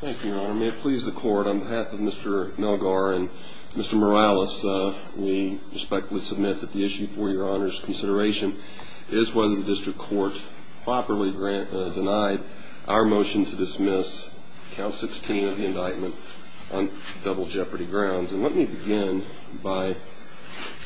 Thank you, Your Honor. May it please the Court, on behalf of Mr. Melgar and Mr. Morales, we respectfully submit that the issue for Your Honor's consideration is whether the District Court properly denied our motion to dismiss Clause 16 of the indictment on double jeopardy grounds. And let me begin by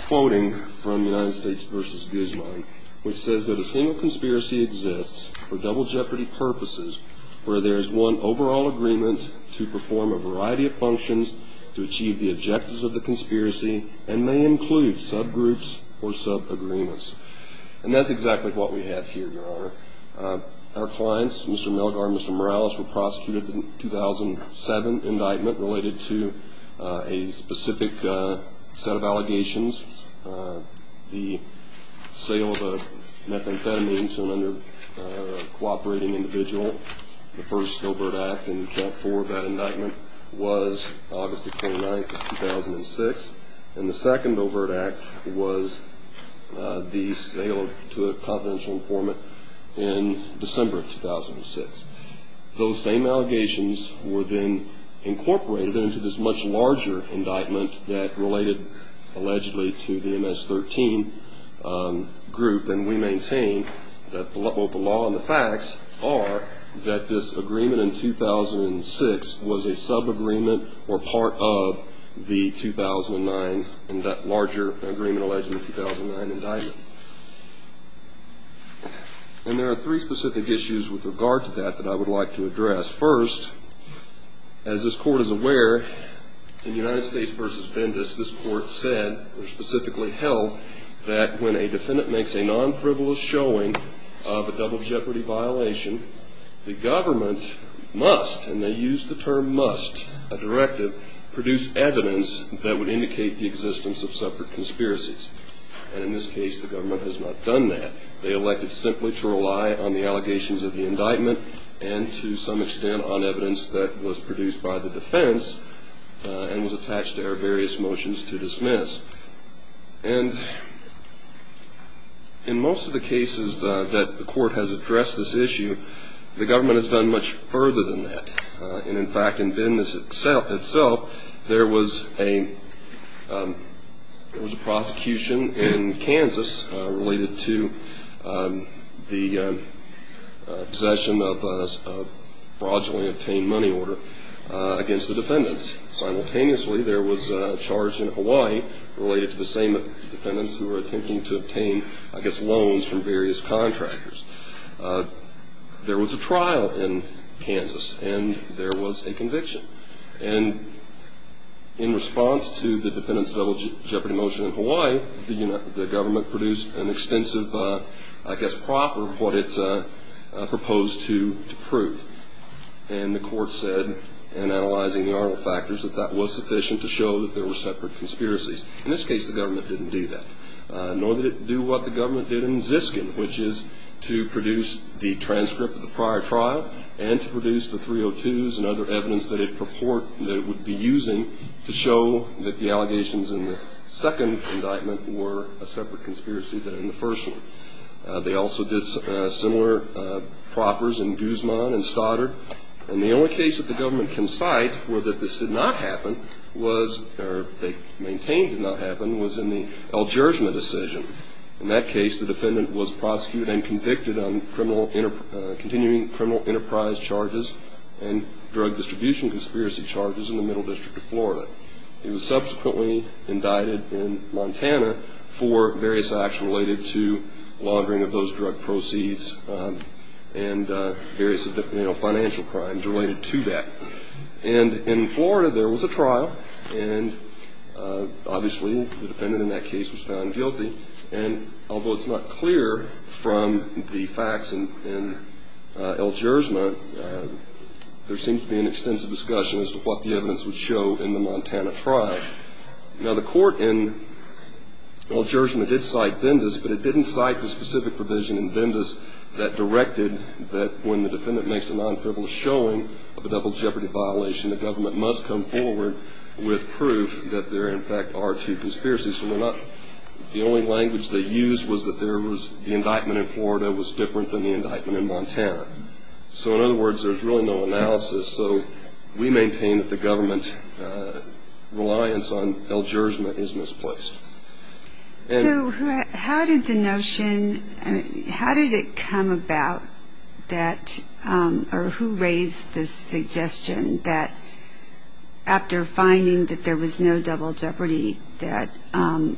quoting from United States v. Guzman, which says that a single conspiracy exists for double jeopardy purposes where there is one overall agreement to perform a variety of functions to achieve the objectives of the conspiracy and may include subgroups or subagreements. And that's exactly what we have here, Your Honor. Our clients, Mr. Melgar and Mr. Morales, were prosecuted in the 2007 indictment related to a specific set of allegations. The sale of a methamphetamine to an under-cooperating individual, the first overt act and the check for that indictment was August 29, 2006, and the second overt act was the sale to a confidential informant in December 2006. Those same allegations were then incorporated into this much larger indictment that related allegedly to the MS-13 group, and we maintain that the law and the facts are that this agreement in 2006 was a subagreement or part of the 2009, that larger agreement alleged in the 2009 indictment. And there are three specific issues with regard to that that I would like to address. First, as this Court is aware, in United States v. Bendis, this Court said, or specifically held, that when a defendant makes a non-frivolous showing of a double jeopardy violation, the government must, and they used the term must, a directive, produce evidence that would indicate the existence of separate conspiracies. And in this case, the government has not done that. They elected simply to rely on the allegations of the indictment and, to some extent, on evidence that was produced by the defense and was attached to their various motions to dismiss. And in most of the cases that the Court has addressed this issue, the government has done much further than that. And, in fact, in Bendis itself, there was a prosecution in Kansas related to the possession of a fraudulently obtained money order against the defendants. Simultaneously, there was a charge in Hawaii related to the same defendants who were attempting to obtain, I guess, loans from various contractors. There was a trial in Kansas, and there was a conviction. And, in response to the defendants' double jeopardy motion in Hawaii, the government produced an extensive, I guess, proffer of what it proposed to prove. And the Court said, in analyzing the other factors, that that was sufficient to show that there were separate conspiracies. In this case, the government didn't do that, nor did it do what the government did in Ziskin, which is to produce the transcript of the prior trial and to produce the 302s and other evidence that it would be using to show that the allegations in the second indictment were a separate conspiracy than in the first one. They also did similar proffers in Guzman and Stoddard. And the only case that the government conspired for that this did not happen, or they maintained did not happen, was in the El Jerjima decision. In that case, the defendant was prosecuted and convicted on continuing criminal enterprise charges and drug distribution conspiracy charges in the Middle District of Florida. He was subsequently indicted in Montana for various actions related to laundering of those drug proceeds and various financial crimes related to that. And in Florida, there was a trial, and obviously the defendant in that case was found guilty. And although it's not clear from the facts in El Jerjima, there seems to be an extensive discussion as to what the evidence would show in the Montana trial. Now, the court in El Jerjima did cite Vindas, but it didn't cite the specific provision in Vindas that directed that when the defendant makes a non-criminal showing of a double jeopardy violation, the government must come forward with proof that there in fact are two conspiracies. So the only language they used was that the indictment in Florida was different than the indictment in Montana. So in other words, there's really no analysis, so we maintain that the government's reliance on El Jerjima is misplaced. So how did the notion – how did it come about that – or who raised the suggestion that after finding that there was no double jeopardy, that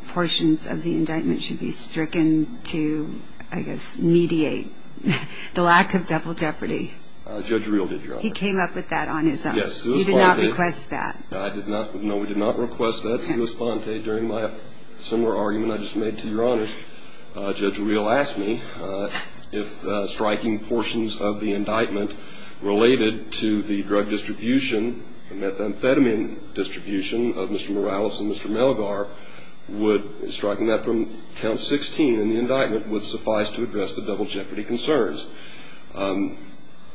portions of the indictment should be stricken to, I guess, mediate the lack of double jeopardy? Judge Reel did, Your Honor. He came up with that on his own? Yes. He did not request that? No, we did not request that. He responded during my similar argument I just made to Your Honor. Judge Reel asked me if striking portions of the indictment related to the drug distribution and methamphetamine distribution of Mr. Morales and Mr. Melgar would – striking that from count 16 in the indictment would suffice to address the double jeopardy concerns.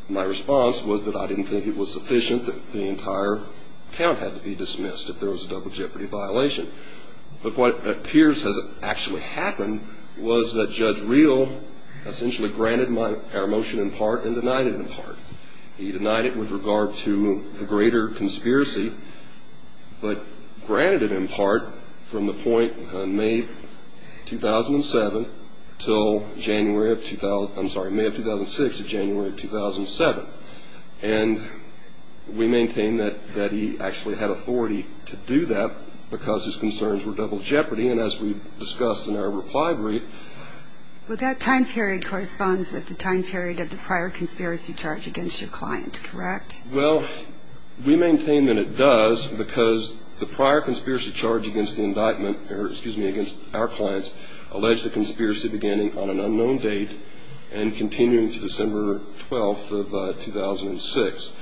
My response was that I didn't think it was sufficient that the entire count had to be dismissed if there was a double jeopardy violation. But what appears to have actually happened was that Judge Reel essentially granted my – our motion in part and denied it in part. He denied it with regard to the greater conspiracy, but granted it in part from the point of May 2007 until January of – I'm sorry, May of 2006 to January of 2007. And we maintain that he actually had authority to do that because his concerns were double jeopardy. And as we discussed in our reply brief – But that time period corresponds with the time period of the prior conspiracy charge against your client, correct? Well, we maintain that it does because the prior conspiracy charge against the indictment – or excuse me, against our clients – alleged the conspiracy beginning on an unknown date and continuing to December 12th of 2006.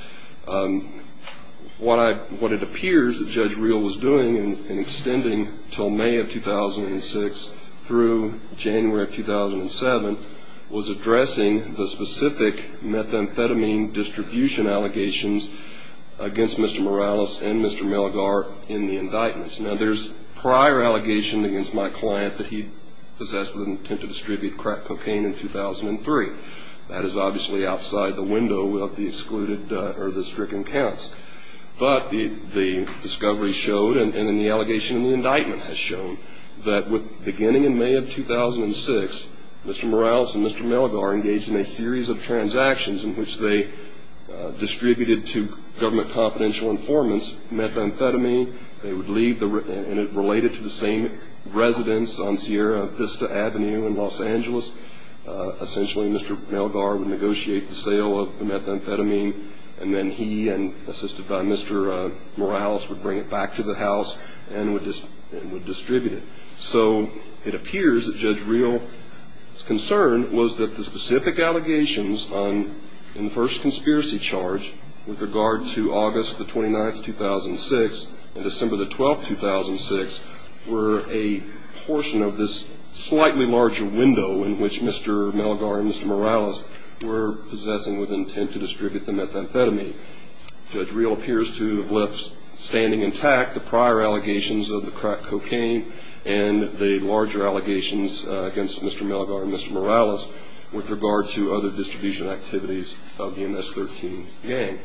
What I – what it appears that Judge Reel was doing in extending until May of 2006 through January of 2007 was addressing the specific methamphetamine distribution allegations against Mr. Morales and Mr. Melgar in the indictments. Now, there's prior allegations against my client that he possessed with an intent to distribute crack cocaine in 2003. That is obviously outside the window of the excluded – or the stricken counts. But the discovery showed, and the allegation in the indictment has shown, that beginning in May of 2006, Mr. Morales and Mr. Melgar engaged in a series of transactions in which they distributed to government confidential informants methamphetamine. They would leave the – and it related to the same residence on Sierra Vista Avenue in Los Angeles. Essentially, Mr. Melgar would negotiate the sale of the methamphetamine, and then he, assisted by Mr. Morales, would bring it back to the house and would distribute it. So, it appears that Judge Reel's concern was that the specific allegations on the first conspiracy charge with regard to August the 29th, 2006 and December the 12th, 2006 were a portion of this slightly larger window in which Mr. Melgar and Mr. Morales were possessing with intent to distribute the methamphetamine. Judge Reel appears to have left standing intact the prior allegations of the crack cocaine and the larger allegations against Mr. Melgar and Mr. Morales with regard to other distribution activities of the MS-13 gang.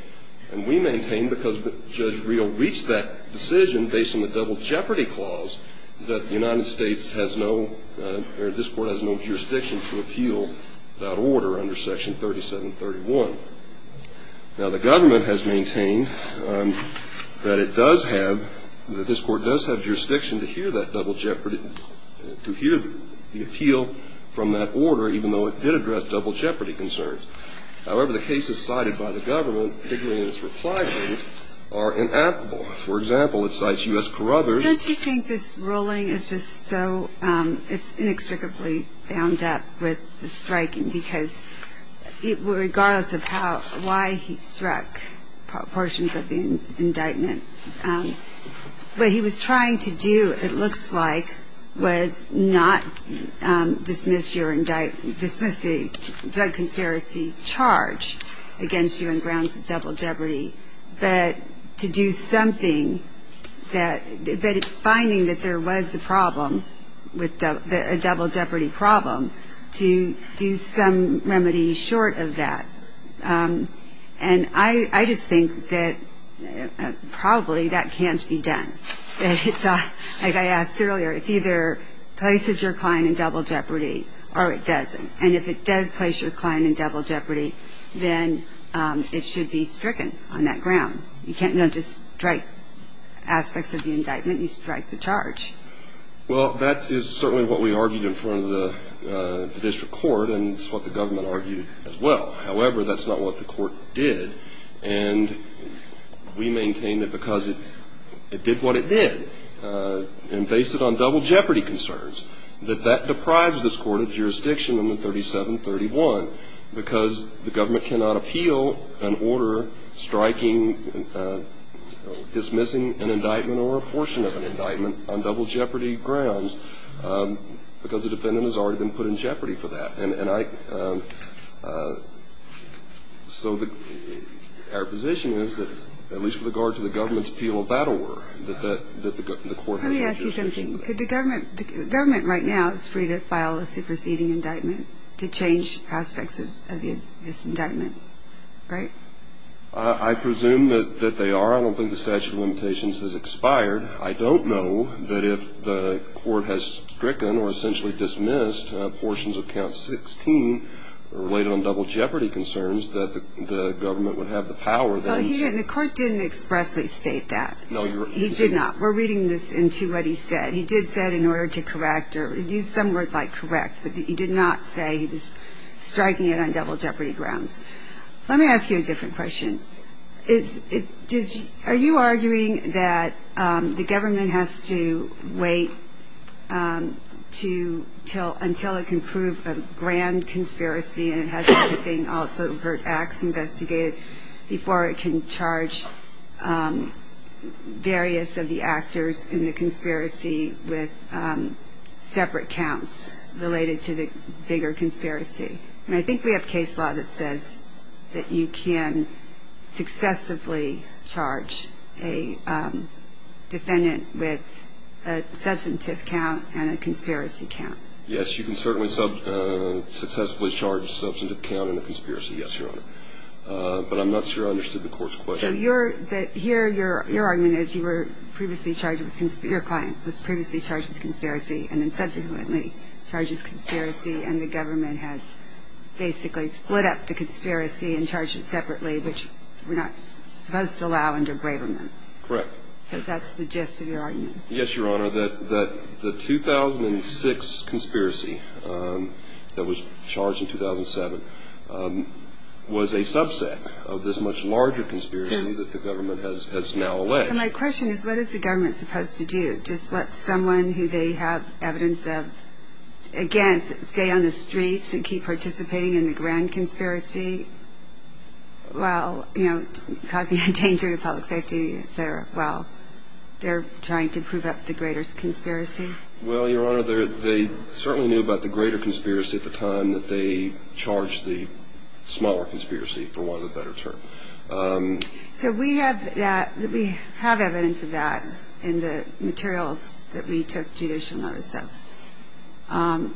And we maintain, because Judge Reel reached that decision based on the double jeopardy clause, that the United States has no – or this Court has no jurisdiction to appeal that order under Section 3731. Now, the government has maintained that it does have – that this Court does have jurisdiction to hear that double jeopardy – to hear the appeal from that order, even though it did address double jeopardy concerns. However, the cases cited by the government, particularly those for flagging, are inapplicable. For example, it cites U.S. corrobors – Why don't you think this ruling is just so inextricably bound up with the striking? Because regardless of how – why he struck portions of the indictment, what he was trying to do, it looks like, was not dismiss your – dismiss the drug conspiracy charge against you on grounds of double jeopardy, but to do something that – but it's finding that there was a problem with the – a double jeopardy problem to do some remedy short of that. And I just think that probably that can't be done. Like I asked earlier, it either places your client in double jeopardy, or it doesn't. And if it does place your client in double jeopardy, then it should be stricken on that ground. You can't just strike aspects of the indictment. You strike the charge. Well, that is certainly what we argued in front of the district court, and it's what the government argued as well. However, that's not what the court did, and we maintain that because it did what it did and based it on double jeopardy concerns, that that deprives this court of jurisdiction under 3731, because the government cannot appeal an order striking – dismissing an indictment or a portion of an indictment on double jeopardy grounds because the defendant has already been put in jeopardy for that. And I – so our position is that at least with regard to the government's appeal of battle work, that the court has jurisdiction. Let me ask you something. Could the government – the government right now is free to file a superseding indictment to change aspects of this indictment, right? I presume that they are. I don't think the statute of limitations has expired. I don't know that if the court has stricken or essentially dismissed portions of count 16 related on double jeopardy concerns, that the government would have the power then – Well, he didn't – the court didn't expressly state that. No, you're – He did not. We're reading this into what he said. He did say in order to correct or use some words like correct, but he did not say he was striking it on double jeopardy grounds. Let me ask you a different question. Is – are you arguing that the government has to wait to – until it can prove a grand conspiracy and it has to bring also overt acts investigated before it can charge various of the actors in the conspiracy with separate counts related to the bigger conspiracy? And I think we have case law that says that you can successively charge a defendant with a substantive count and a conspiracy count. Yes, you can certainly successively charge a substantive count and a conspiracy, yes, Your Honor. But I'm not sure I understood the court's question. So you're – but here your argument is you were previously charged with – your client was previously charged with conspiracy and then subsequently charges conspiracy and the government has basically split up the conspiracy and charged it separately, which we're not supposed to allow under Braverman. Correct. So that's the gist of your argument. Yes, Your Honor, that the 2006 conspiracy that was charged in 2007 was a subset of this much larger conspiracy that the government has now alleged. My question is what is the government supposed to do? Just let someone who they have evidence of, again, stay on the streets and keep participating in the grand conspiracy while, you know, causing a danger to public safety, et cetera, while they're trying to prove up the greater conspiracy? Well, Your Honor, they certainly knew about the greater conspiracy at the time that they charged the smaller conspiracy, for want of a better term. So we have that – we have evidence of that in the materials that we took judicial notice of.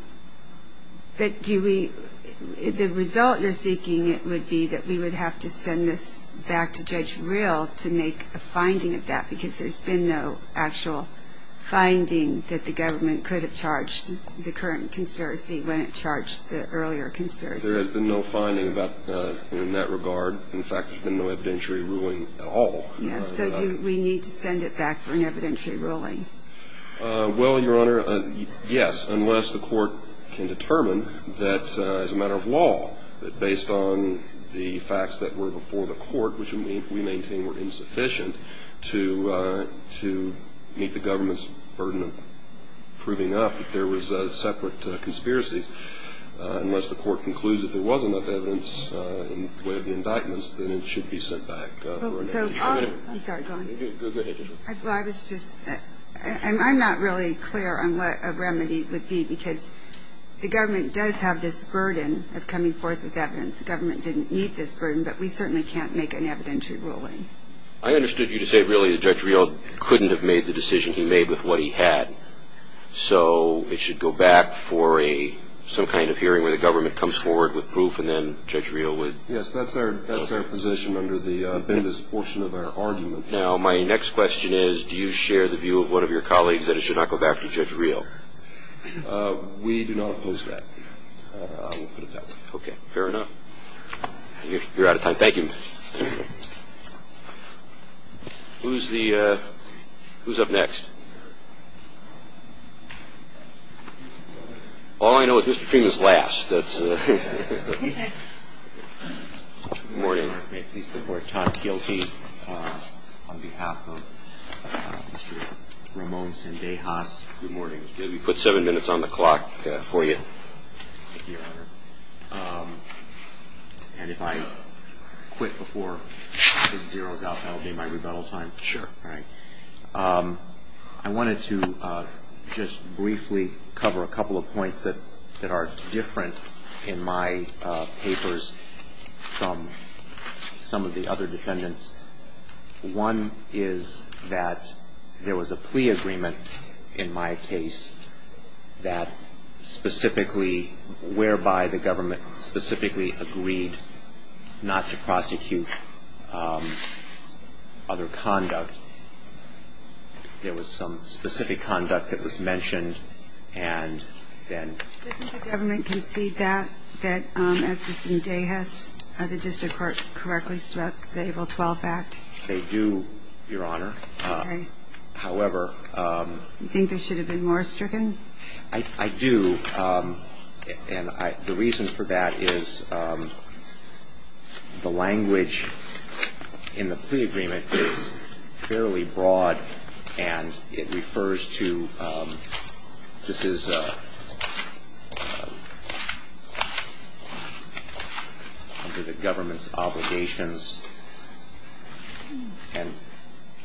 But do we – the result, you're speaking, would be that we would have to send this back to Judge Rill to make a finding of that because there's been no actual finding that the government could have charged the current conspiracy when it charged the earlier conspiracy. There has been no finding in that regard. In fact, there's been no evidentiary ruling at all. So do we need to send it back for an evidentiary ruling? Well, Your Honor, yes, unless the court can determine that as a matter of law, that based on the facts that were before the court, which we maintain were insufficient, to meet the government's burden of proving up that there was separate conspiracies. Unless the court concludes that there was enough evidence with the indictments, then it should be sent back for an evidentiary ruling. I'm sorry, go ahead. I was just – I'm not really clear on what a remedy would be because the government does have this burden of coming forth with evidence. The government didn't meet this burden, but we certainly can't make an evidentiary ruling. I understood you to say really that Judge Rill couldn't have made the decision he made with what he had. So it should go back for a – some kind of hearing where the government comes forward with proof and then Judge Rill would – Yes, that's our position under the business portion of our argument. Now, my next question is do you share the view of one of your colleagues that it should not go back to Judge Rill? We do not oppose that. Okay, fair enough. You're out of time. Thank you. Who's the – who's up next? All I know is Mr. Freeman's last. Good morning. Good morning. Tom Kielke on behalf of Mr. Ramones and Dehas. Good morning. We put seven minutes on the clock for you. Thank you, Your Honor. And if I quit before half is zeroed out, that will be my rebuttal time? Sure. All right. I wanted to just briefly cover a couple of points that are different in my papers from some of the other defendants. One is that there was a plea agreement in my case that specifically – whereby the government specifically agreed not to prosecute other conduct. There was some specific conduct that was mentioned and then – Doesn't the government concede that, as Mr. Dehas, the district court correctly struck the Able 12 Act? They do, Your Honor. Okay. However – You think they should have been more stricken? I do. And the reason for that is the language in the plea agreement is fairly broad and it refers to – this is under the government's obligations. And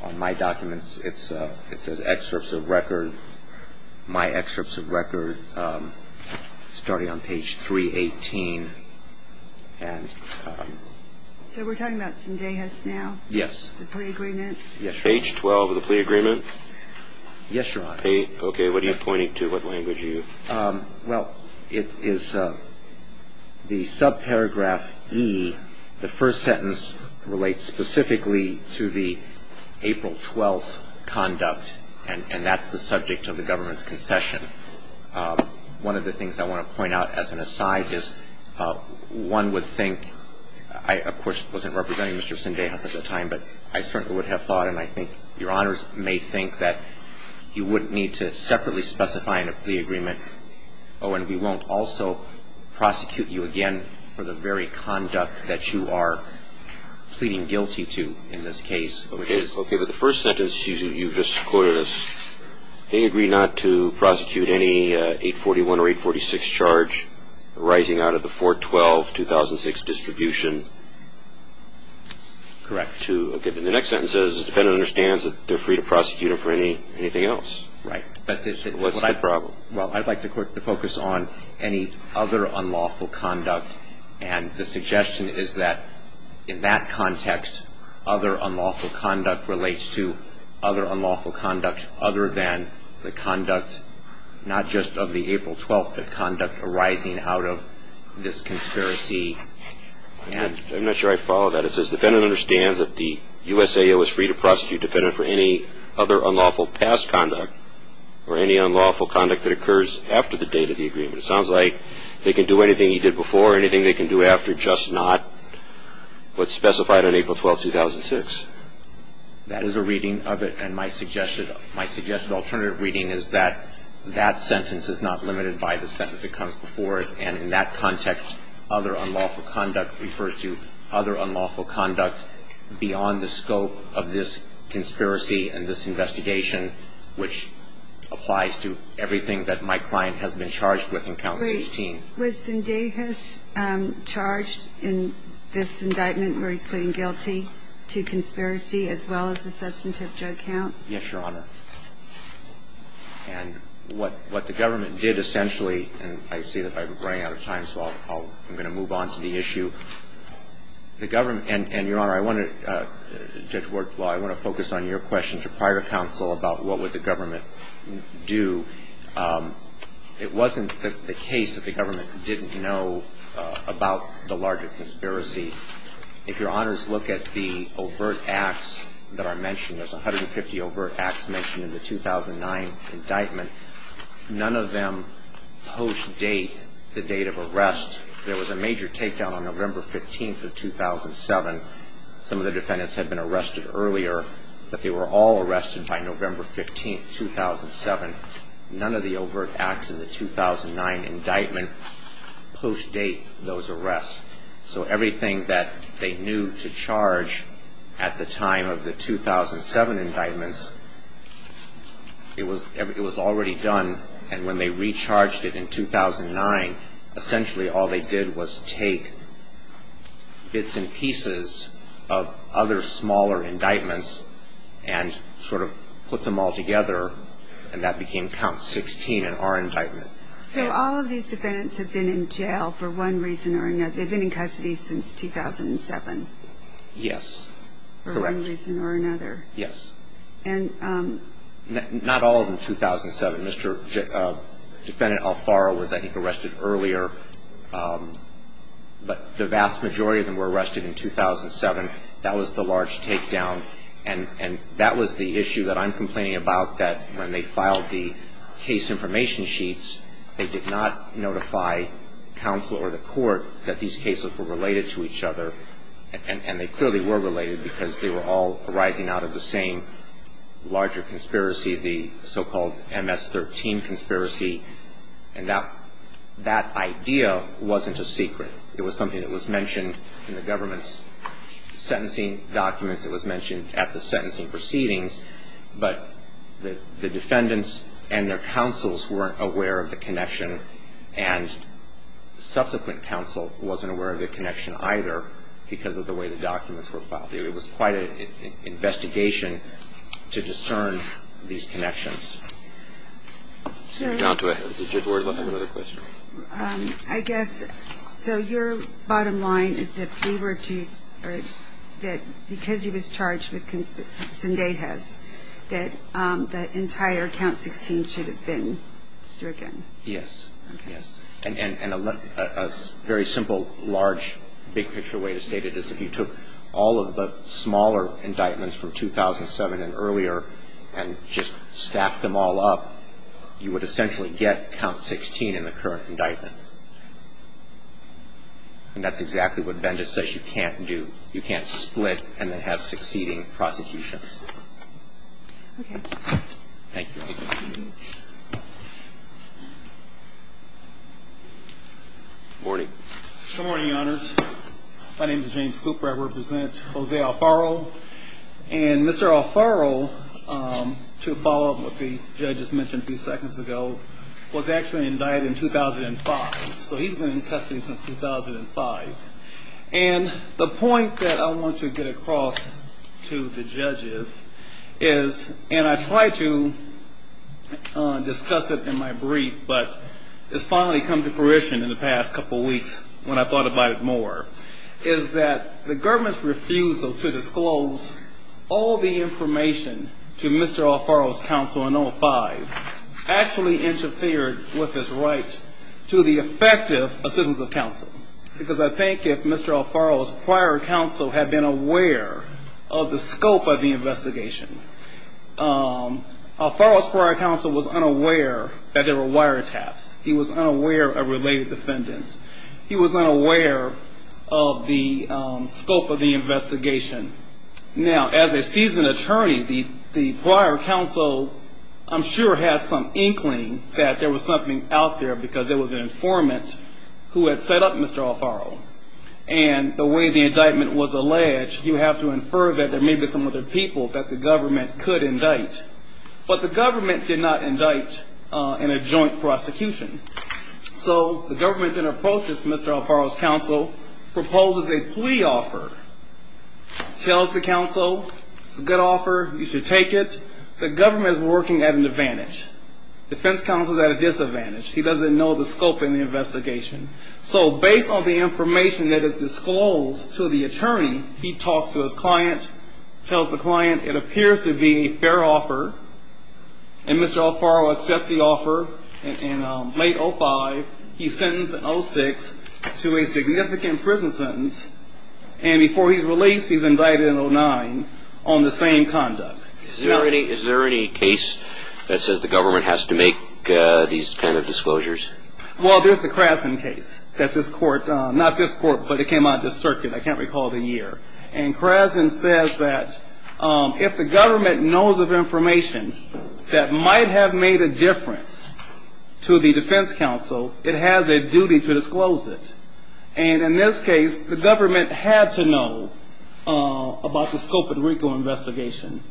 on my documents it says excerpts of record – my excerpts of record starting on page 318 and – So we're talking about Mr. Dehas now? Yes. The plea agreement? Yes. Page 12 of the plea agreement? Yes, Your Honor. Okay. What are you pointing to? What language are you – Well, it is – the subparagraph E, the first sentence, relates specifically to the Able 12's conduct and that's the subject of the government's concession. One of the things I want to point out as an aside is one would think – I, of course, wasn't representing Mr. Sinday half of the time, but I certainly would have thought and I think Your Honors may think that you wouldn't need to separately specify in a plea agreement. Oh, and we won't also prosecute you again for the very conduct that you are pleading guilty to in this case. Okay. Okay. But the first sentence you just quoted is, they agree not to prosecute any 841 or 846 charge arising out of the 412-2006 distribution. Correct. The next sentence says the defendant understands that they're free to prosecute him for anything else. Right. What's the problem? Well, I'd like the court to focus on any other unlawful conduct and the suggestion is that in that context, other unlawful conduct relates to other unlawful conduct other than the conduct not just of the April 12th, the conduct arising out of this conspiracy. I'm not sure I followed that. The next sentence says the defendant understands that the USAO is free to prosecute the defendant for any other unlawful past conduct or any unlawful conduct that occurs after the date of the agreement. It sounds like they can do anything he did before, anything they can do after, just not what's specified on April 12th, 2006. That is a reading of it and my suggested alternative reading is that that sentence is not limited by the sentence that comes before it and in that context, other unlawful conduct refers to other unlawful conduct beyond the scope of this conspiracy and this investigation, which applies to everything that my client has been charged with in Count 18. Great. Wasn't Davis charged in this indictment where he claimed guilty to conspiracy as well as a substantive drug count? Yes, Your Honor. And what the government did essentially, and I see that I'm running out of time, so I'm going to move on to the issue. The government, and Your Honor, I want to, Judge Wortswell, I want to focus on your question to private counsel about what would the government do. It wasn't the case that the government didn't know about the larger conspiracy. If Your Honors look at the overt acts that are mentioned, there's 150 overt acts mentioned in the 2009 indictment. None of them post-date the date of arrest. There was a major takedown on November 15th of 2007. Some of the defendants had been arrested earlier, but they were all arrested by November 15th, 2007. None of the overt acts in the 2009 indictment post-date those arrests. So everything that they knew to charge at the time of the 2007 indictments, it was already done, and when they recharged it in 2009, essentially all they did was take bits and pieces of other smaller indictments and sort of put them all together, and that became Count 16 in our indictment. So all of these defendants have been in jail for one reason or another. They've been in custody since 2007. Yes, correct. For one reason or another. Yes. And... Not all of them 2007. Mr. Defendant Alfaro was, I think, arrested earlier, but the vast majority of them were arrested in 2007. That was the large takedown, and that was the issue that I'm complaining about, that when they filed the case information sheets, they did not notify counsel or the court that these cases were related to each other, and they clearly were related because they were all arising out of the same larger conspiracy, the so-called MS-13 conspiracy, and that idea wasn't a secret. It was something that was mentioned in the government's sentencing documents. It was mentioned at the sentencing proceedings, but the defendants and their counsels weren't aware of the connection, and subsequent counsel wasn't aware of the connection either because of the way the documents were filed. It was quite an investigation to discern these connections. John, do I have another question? I guess, so your bottom line is that they were to, or that because he was charged with Sundehas, that the entire Count 16 should have been stricken? Yes. Yes. And a very simple, large, big-picture way to state it is that he took all of the smaller indictments from 2007 and earlier and just stacked them all up, you would essentially get Count 16 in the current indictment. And that's exactly what Bendis says you can't do. You can't split and then have succeeding prosecutions. Okay. Thank you. Good morning. Good morning, Your Honors. My name is James Cooper. I represent Jose Alfaro. And Mr. Alfaro, to follow up what the judges mentioned a few seconds ago, was actually indicted in 2005. So he's been in custody since 2005. And the point that I want to get across to the judges is, and I tried to discuss it in my brief, but it's finally come to fruition in the past couple weeks when I thought about it more, is that the government's refusal to disclose all the information to Mr. Alfaro's counsel in 2005 actually interfered with his right to the effective assistance of counsel. Because I think if Mr. Alfaro's prior counsel had been aware of the scope of the investigation, Alfaro's prior counsel was unaware that there were wiretaps. He was unaware of related defendants. He was not aware of the scope of the investigation. Now, as a seasoned attorney, the prior counsel, I'm sure, had some inkling that there was something out there because there was an informant who had set up Mr. Alfaro. And the way the indictment was alleged, you have to infer that there may be some other people that the government could indict. But the government did not indict in a joint prosecution. So, the government then approaches Mr. Alfaro's counsel, proposes a plea offer, tells the counsel, it's a good offer, you should take it. The government is working at an advantage. The defense counsel is at a disadvantage. He doesn't know the scope of the investigation. So, based on the information that is disclosed to the attorney, he talks to his client, tells the client it appears to be a fair offer, and Mr. Alfaro accepts the offer. In late 05, he's sentenced in 06 to a significant prison sentence, and before he's released, he's indicted in 09 on the same conduct. Is there any case that says the government has to make these kind of disclosures? Well, there's the Krasin case that this court, not this court, but it came out of the circuit. I can't recall the year. And Krasin says that if the government knows of information that might have made a difference to the defense counsel, it has a duty to disclose it. And in this case, the government had to know about the scope of the RICO investigation.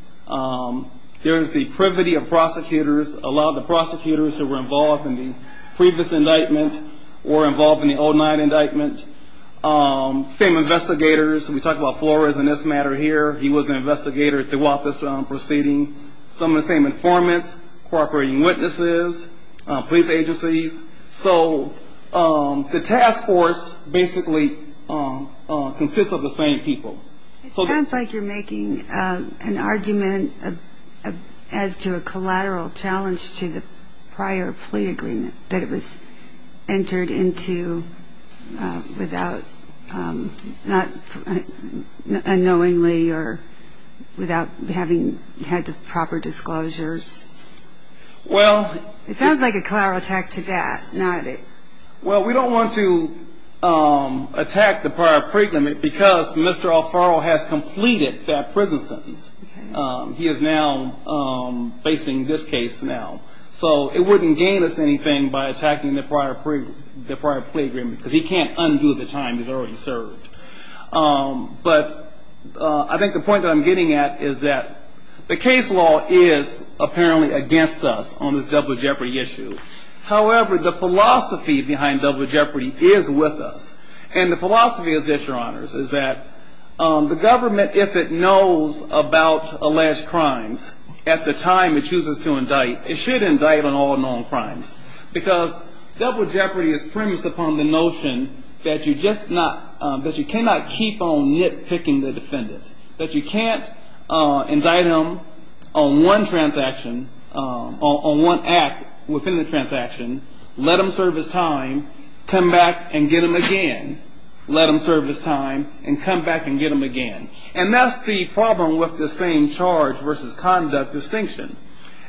There's the privity of prosecutors, a lot of the prosecutors who were involved in the previous indictment or involved in the 09 indictment. Same investigators. We talked about Flores in this matter here. He was an investigator throughout this proceeding. Some of the same informants, cooperating witnesses, police agencies. So the task force basically consists of the same people. It sounds like you're making an argument as to a collateral challenge to the prior plea agreement that it was entered into without unknowingly or without having had the proper disclosures. Well. It sounds like a collateral attack to that, not it. Well, we don't want to attack the prior prison because Mr. O'Farrell has completed that prison sentence. He is now facing this case now. So it wouldn't gain us anything by attacking the prior plea agreement because he can't undo the time he's already served. But I think the point that I'm getting at is that the case law is apparently against us on this double jeopardy issue. However, the philosophy behind double jeopardy is with us. And the philosophy is this, Your Honors, is that the government, if it knows about alleged crimes at the time it chooses to indict, it should indict on all known crimes. Because double jeopardy is premised upon the notion that you cannot keep on nitpicking the defendant, that you can't indict him on one transaction, on one act within the transaction, let him serve his time, come back and get him again, let him serve his time, and come back and get him again. And that's the problem with the same charge versus conduct distinction.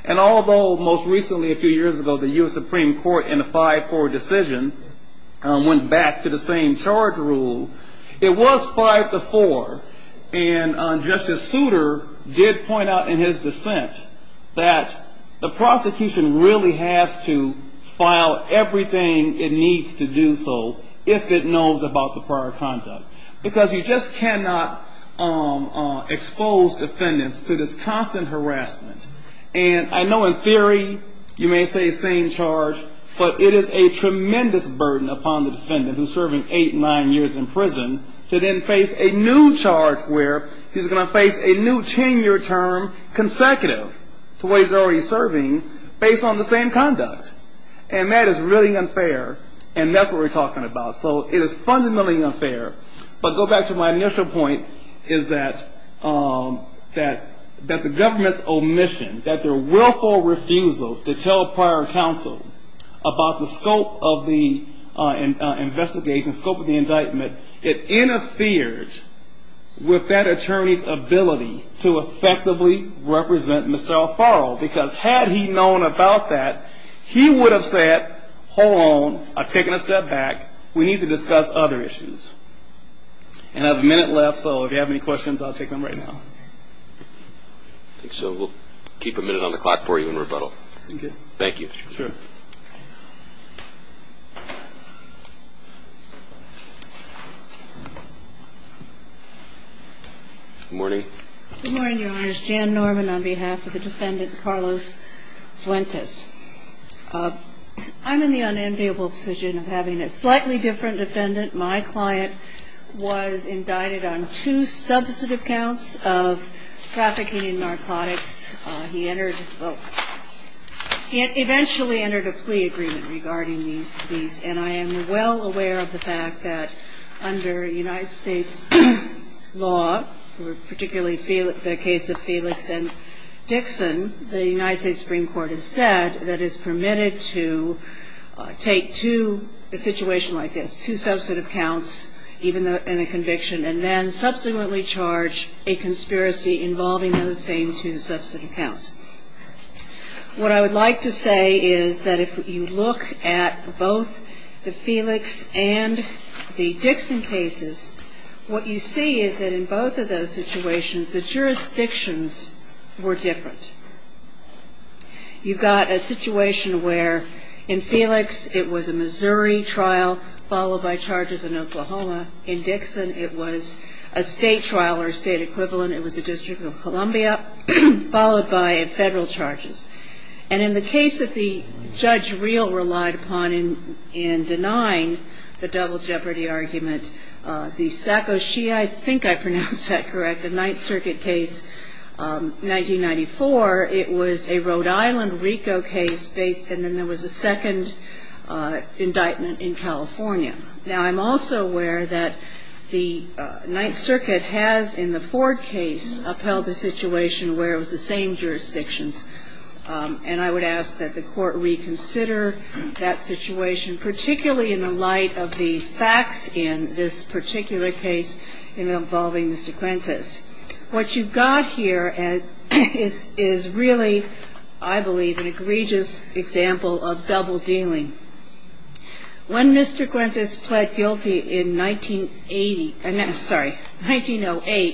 And although most recently, a few years ago, the U.S. Supreme Court in a 5-4 decision went back to the same charge rule, it was 5-4 and Justice Souter did point out in his dissent that the prosecution really has to file everything it needs to do so if it knows about the prior conduct. Because you just cannot expose defendants to this constant harassment. And I know in theory, you may say same charge, but it is a tremendous burden upon the defendant who's serving 8, 9 years in prison to then face a new charge where he's going to face a new 10-year term consecutive to what he's already serving based on the same conduct. And that is really unfair, and that's what we're talking about. So it is fundamentally unfair, but go back to my initial point is that the government's omission, that their willful refusal to tell prior counsel about the scope of the investigation, scope of the indictment, it interferes with that attorney's ability to effectively represent Mr. Alfaro. Because had he known about that, he would have said, hold on, I'm taking a step back, we need to discuss other issues. And I have a minute left, so if you have any questions, I'll take them right now. So we'll keep a minute on the clock for you in rebuttal. Thank you. Sure. Good morning. Good morning, Your Honors. Jan Norman on behalf of the defendant, Carlos Fuentes. I'm in the unenviable position of having a slightly different defendant. My client was indicted on two substantive counts of trafficking in narcotics. He entered, well, he eventually entered a plea agreement regarding these, and I am well aware of the fact that under United States law, particularly the case of Felix and Dixon, the United States Supreme Court has said that it's permitted to take two, a situation like this, two substantive counts in a conviction and then subsequently charge a conspiracy involving those same two substantive counts. What I would like to say is that if you look at both the Felix and the Dixon cases, what you see is that in both of those situations, the jurisdictions were different. You've got a situation where in Felix, it was a Missouri trial followed by charges in Oklahoma. In Dixon, it was a state trial or a state equivalent. It was the District of Columbia followed by federal charges. And in the case that the judge real relied upon in denying the double jeopardy argument, the Sakoshi, I think I pronounced that correct, the Ninth Circuit case, 1994, it was a Rhode Island RICO case based, and then there was a second indictment in California. Now, I'm also aware that the Ninth Circuit has, in the Ford case, upheld the situation where it was the same jurisdictions. And I would ask that the court reconsider that situation, particularly in the light of the facts in this particular case involving Mr. Quintus. What you've got here is really, I believe, an egregious example of double dealing. When Mr. Quintus pled guilty in 1908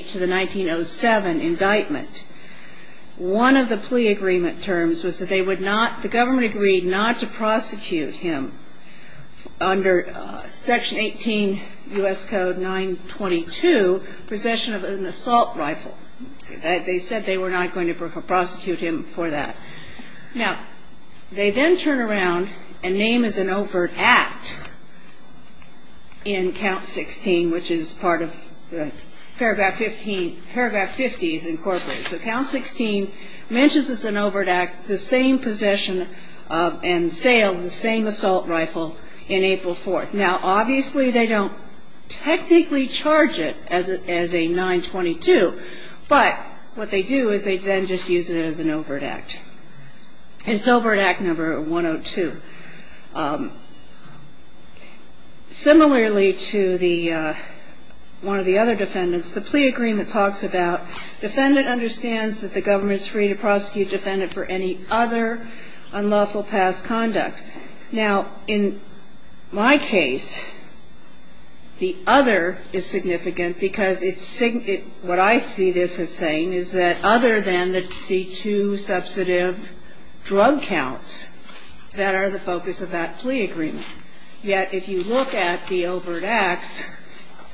to the 1907 indictment, one of the plea agreement terms was that they would not, the government agreed not to prosecute him under Section 18 U.S. Code 922, possession of an assault rifle. They said they were not going to prosecute him for that. Now, they then turn around and name as an overt act in Count 16, which is part of Paragraph 15, Paragraph 50 is incorporated. So Count 16 mentions as an overt act the same possession and sale of the same assault rifle in April 4th. Now, obviously, they don't technically charge it as a 922, but what they do is they then just use it as an overt act. And it's overt act number 102. Similarly to one of the other defendants, the plea agreement talks about defendant understands that the government is free to prosecute defendant for any other unlawful past conduct. Now, in my case, the other is significant because what I see this as saying is that other than the two substantive drug counts that are the focus of that plea agreement. Yet, if you look at the overt acts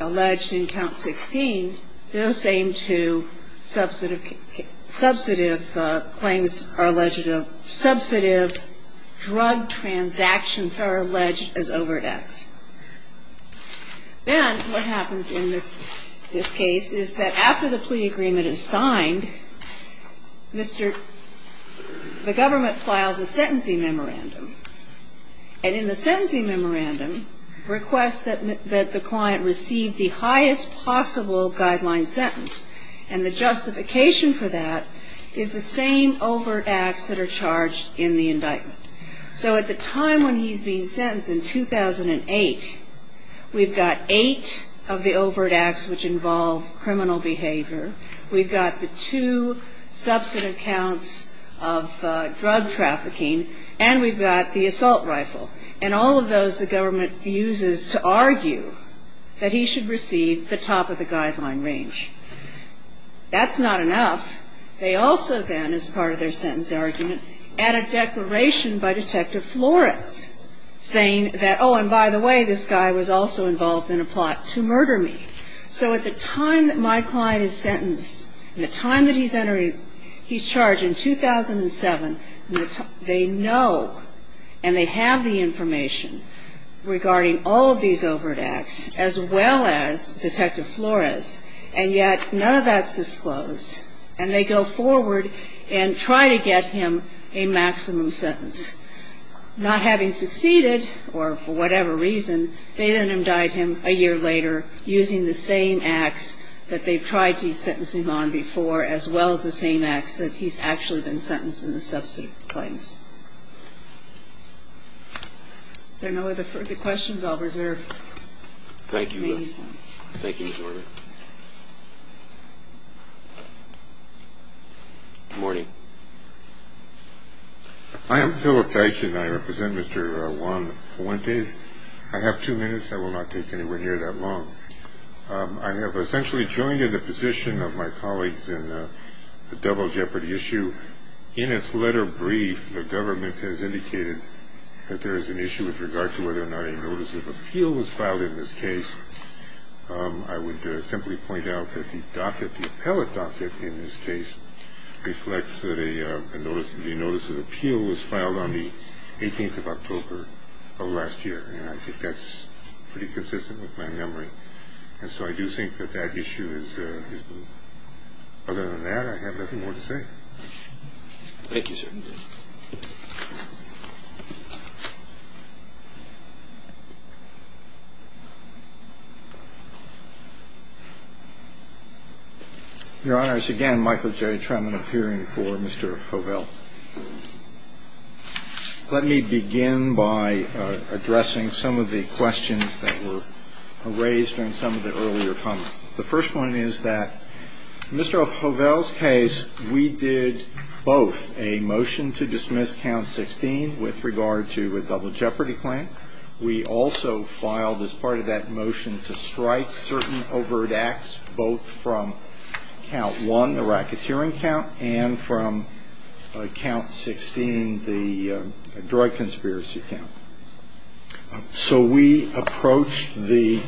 alleged in Count 16, the same two substantive claims are alleged. Substantive drug transactions are alleged as overt acts. Then what happens in this case is that after the plea agreement is signed, the government files a sentencing memorandum. And in the sentencing memorandum requests that the client receive the highest possible guideline sentence. And the justification for that is the same overt acts that are charged in the indictment. So at the time when he's being sentenced in 2008, we've got eight of the overt acts which involve criminal behavior. We've got the two substantive counts of drug trafficking, and we've got the assault rifle. And all of those the government uses to argue that he should receive the top of the guideline range. That's not enough. They also then, as part of their sentence argument, add a declaration by Detective Flores saying that, oh, and by the way, this guy was also involved in a plot to murder me. So at the time that my client is sentenced and the time that he's entering, he's charged in 2007, they know and they have the information regarding all of these overt acts as well as Detective Flores. And yet none of that's disclosed. And they go forward and try to get him a maximum sentence. Not having succeeded, or for whatever reason, they then indict him a year later using the same acts that they've tried these sentencing on before as well as the same acts that he's actually been sentenced in the substantive claims. If there are no other questions, I'll reserve the meeting time. Thank you. Thank you, Ms. Lurie. Good morning. I am Philip Teich and I represent Mr. Juan Fuentes. I have two minutes. I will not take anyone here that long. I have essentially joined in the position of my colleagues in the double jeopardy issue. In its letter brief, the government has indicated that there is an issue with regard to whether or not a notice of appeal was filed in this case. I would simply point out that the docket, the appellate docket in this case, reflects that a notice of appeal was filed on the 18th of October of last year. And I think that's pretty consistent with my memory. And so I do think that that issue is, other than that, I have nothing more to say. Thank you, sir. Your Honors, again, Michael J. Truman appearing before Mr. Fovell. Let me begin by addressing some of the questions that were raised in some of the earlier comments. The first one is that in Mr. Fovell's case, we did both a motion to dismiss Count 16 with regard to a double jeopardy claim. We also filed, as part of that motion, to strike certain overt acts, both from Count 1, the racketeering count, and from Count 16, the drug conspiracy count. So we approached the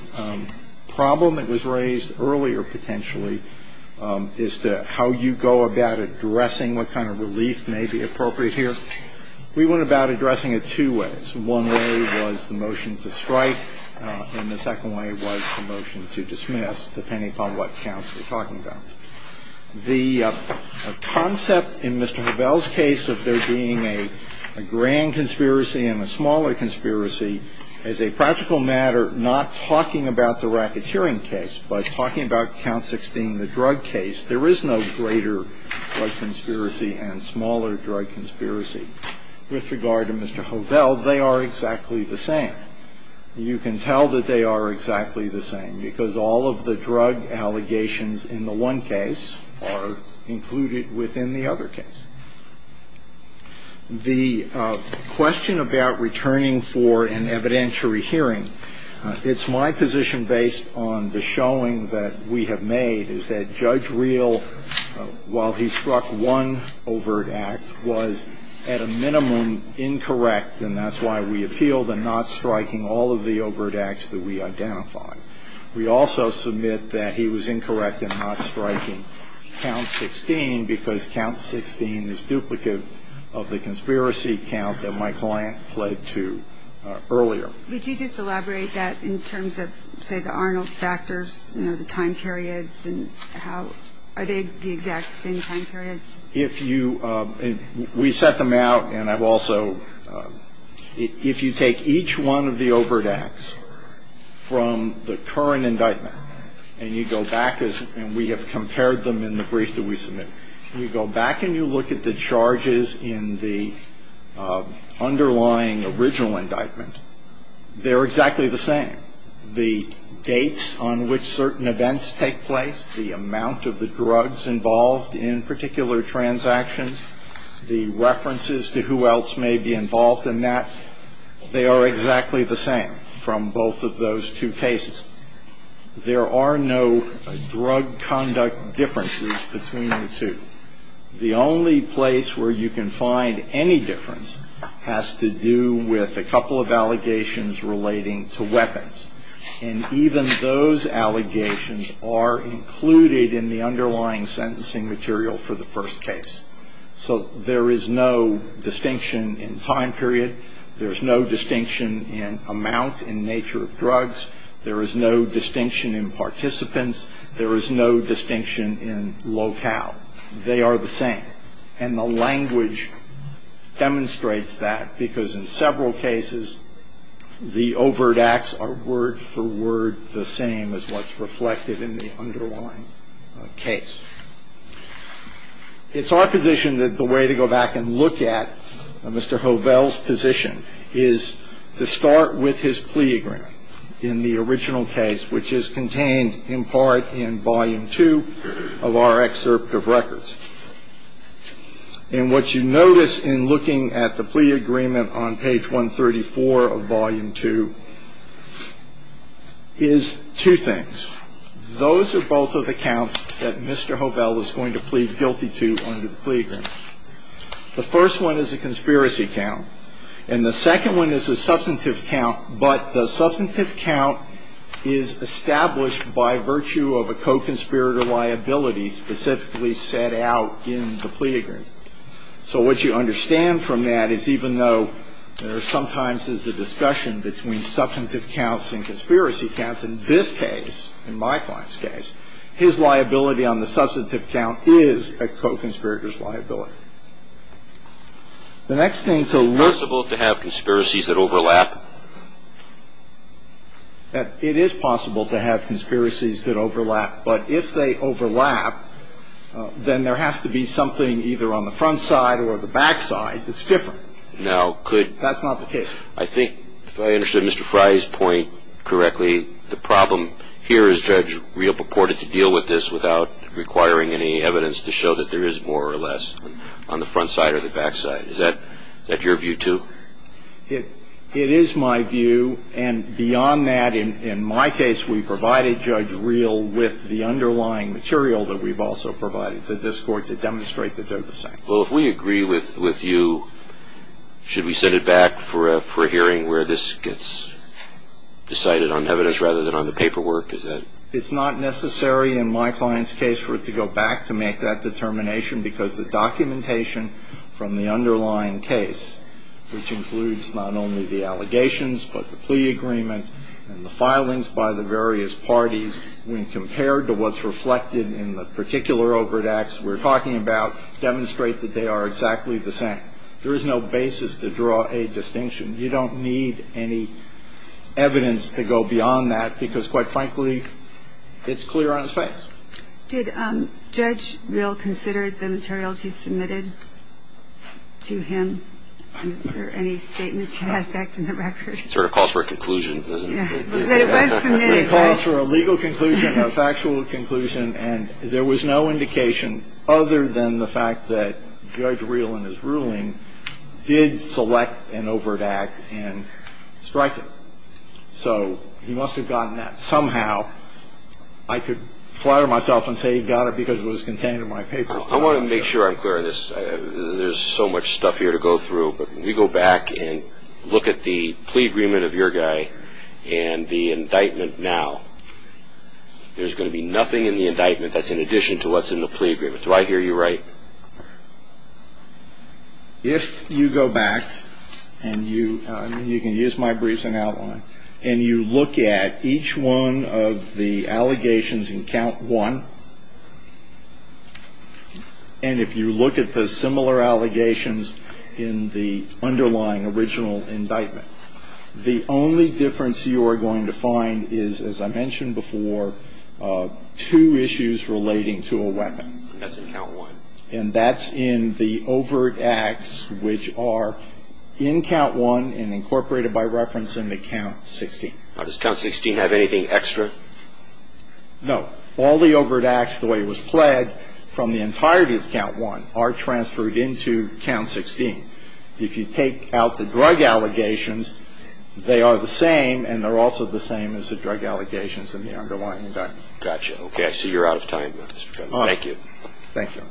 problem that was raised earlier, potentially, as to how you go about addressing what kind of relief may be appropriate here. We went about addressing it two ways. One way was the motion to strike, and the second way was the motion to dismiss, depending upon what counts we're talking about. The concept in Mr. Fovell's case of there being a grand conspiracy and a smaller conspiracy is a practical matter, not talking about the racketeering case, but talking about Count 16, the drug case. There is no greater drug conspiracy and smaller drug conspiracy. With regard to Mr. Fovell, they are exactly the same. You can tell that they are exactly the same, because all of the drug allegations in the one case are included within the other case. The question about returning for an evidentiary hearing, it's my position, based on the showing that we have made, is that Judge Reel, while he struck one overt act, was, at a minimum, incorrect, and that's why we appealed in not striking all of the overt acts that we identified. We also submit that he was incorrect in not striking Count 16, because Count 16 is duplicative of the conspiracy count that my client pled to earlier. Could you just elaborate that in terms of, say, the Arnold factors, you know, the time periods, and how are they the exact same time period? If you – we set them out, and I've also – if you take each one of the overt acts from the current indictment, and you go back, and we have compared them in the brief that we submitted, and you go back and you look at the charges in the underlying original indictment, they're exactly the same. The dates on which certain events take place, the amount of the drugs involved in particular transactions, the references to who else may be involved in that, they are exactly the same from both of those two cases. There are no drug conduct differences between the two. The only place where you can find any difference has to do with a couple of allegations relating to weapons, and even those allegations are included in the underlying sentencing material for the first case. So there is no distinction in time period. There's no distinction in amount and nature of drugs. There is no distinction in participants. There is no distinction in locale. They are the same, and the language demonstrates that because in several cases, the overt acts are word for word the same as what's reflected in the underlying case. It's our position that the way to go back and look at Mr. Hovell's position is to start with his plea agreement. In the original case, which is contained in part in Volume 2 of our excerpt of records. And what you notice in looking at the plea agreement on page 134 of Volume 2 is two things. Those are both of the counts that Mr. Hovell was going to plead guilty to under the plea agreement. The first one is a conspiracy count, and the second one is a substantive count, but the substantive count is established by virtue of a co-conspirator liability specifically set out in the plea agreement. So what you understand from that is even though there sometimes is a discussion between substantive counts and conspiracy counts, in this case, in my client's case, his liability on the substantive count is a co-conspirator's liability. The next thing to look... Is it possible to have conspiracies that overlap? It is possible to have conspiracies that overlap, but if they overlap, then there has to be something either on the front side or the back side that's different. Now, could... That's not the case. I think if I understood Mr. Fry's point correctly, the problem here is Judge Reel purported to deal with this without requiring any evidence to show that there is more or less on the front side or the back side. Is that your view, too? It is my view, and beyond that, in my case, we provided Judge Reel with the underlying material that we've also provided to this Court to demonstrate that they're the same. Well, if we agree with you, should we send it back for a hearing where this gets decided on evidence rather than on the paperwork? Is that... It's not necessary in my client's case for it to go back to make that determination because the documentation from the underlying case, which includes not only the allegations but the plea agreement and the filings by the various parties, when compared to what's reflected in the particular overt acts we're talking about, demonstrate that they are exactly the same. There is no basis to draw a distinction. You don't need any evidence to go beyond that because, quite frankly, it's clear on his face. Did Judge Reel consider the materials you submitted to him for any statements you have back in the record? Sort of calls for a conclusion. Calls for a legal conclusion, a factual conclusion, and there was no indication other than the fact that Judge Reel in his ruling did select an overt act and strike it. So he must have gotten that somehow. I could flatter myself and say he got it because it was contained in my paper. I want to make sure I'm clear on this. There's so much stuff here to go through, but if you go back and look at the plea agreement of your guy and the indictment now, there's going to be nothing in the indictment that's in addition to what's in the plea agreement. Do I hear you right? If you go back, and you can use my briefing outline, and you look at each one of the allegations in count one, and if you look at the similar allegations in the underlying original indictment, the only difference you are going to find is, as I mentioned before, two issues relating to a weapon. That's in count one. And that's in the overt acts, which are in count one and incorporated by reference in the count 16. Does count 16 have anything extra? No. All the overt acts, the way it was pled, from the entirety of count one, are transferred into count 16. If you take out the drug allegations, they are the same, and they're also the same as the drug allegations in the underlying indictment. Gotcha. Okay, I see you're out of time. Thank you. Thank you.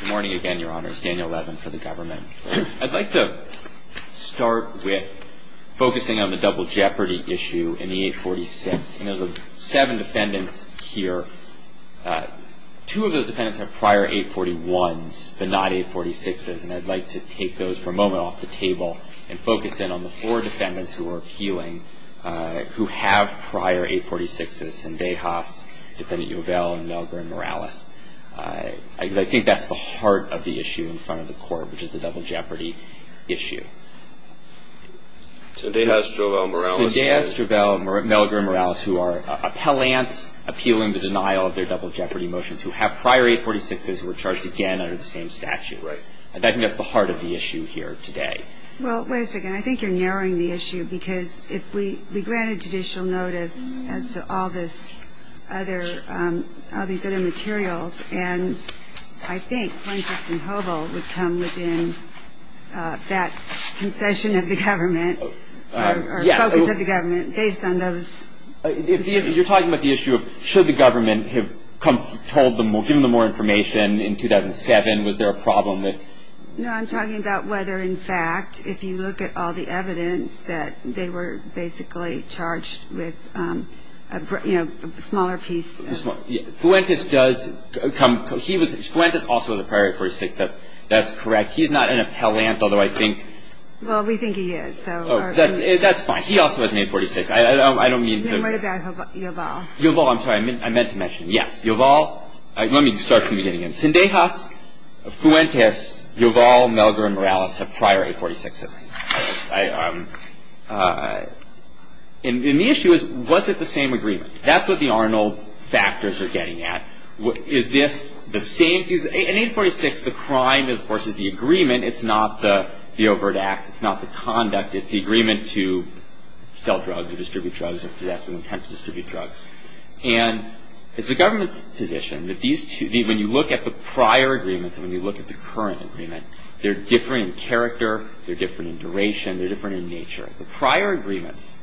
Good morning again, Your Honor. Daniel Levin for the government. I'd like to start with focusing on the double jeopardy issue in the 846th. There's seven defendants here. Two of those defendants have prior 841s, but not 846s, and I'd like to take those for a moment off the table and focus in on the four defendants who are appealing who have prior 846s in Dayhoff's, defendant Uvell, and Melgar and Morales. I think that's the heart of the issue in front of the court, which is the double jeopardy issue. Dayhoff, Uvell, and Melgar and Morales, who are appellants appealing the denial of their double jeopardy motions, who have prior 846s and were charged again under the same statute. Right. I think that's the heart of the issue here today. Well, wait a second. I think you're narrowing the issue because if we granted judicial notice to all the other materials, and I think Gulenkis and Hobel would come within that concession of the government, or focus of the government, based on those. You're talking about the issue of should the government have told them or given them more information in 2007? Was there a problem with it? No, I'm talking about whether, in fact, if you look at all the evidence, that they were basically charged with a smaller piece. Gulenkis also has a prior 846. That's correct. He is not an appellant, although I think- Well, we think he is. That's fine. He also has an 846. I don't mean to- You meant about Uvell. Uvell, I'm sorry. I meant to mention. Yes. Uvell. Let me start from the beginning. Cindejas, Gulenkis, Uvell, Melgar, and Morales have prior 846s. And the issue is, was it the same agreement? That's what the Arnold factors are getting at. Is this the same- In 846, the crime, of course, is the agreement. It's not the overt act. It's not the conduct. It's the agreement to sell drugs or distribute drugs or possess and attempt to distribute drugs. And it's the government's position that these two- When you look at the prior agreement and when you look at the current agreement, they're different in character, they're different in duration, they're different in nature. The prior agreement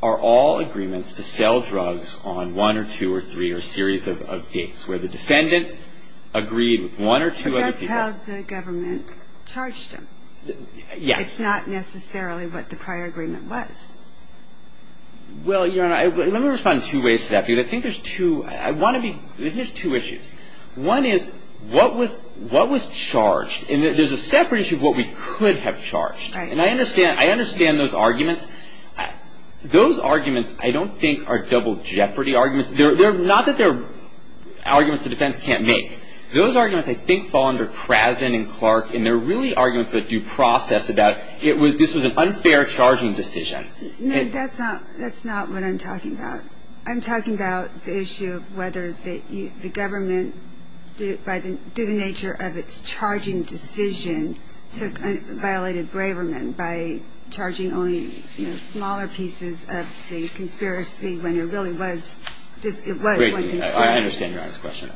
are all agreements to sell drugs on one or two or three or a series of dates where the defendant agreed with one or two other people. But that's how the government charged them. Yes. It's not necessarily what the prior agreement was. Well, let me respond in two ways to that. I think there's two- I want to be- I think there's two issues. One is, what was charged? And there's a separate issue of what we could have charged. And I understand those arguments. Those arguments, I don't think, are double jeopardy arguments. Not that they're arguments the defense can't make. Those arguments, I think, fall under Krasin and Clark, and they're really arguments that you process about, this was an unfair charging decision. No, that's not what I'm talking about. I'm talking about the issue of whether the government, due to the nature of its charging decision, violated Braverman by charging only smaller pieces of the conspiracy when there really was- Wait a minute. I understand your honest question.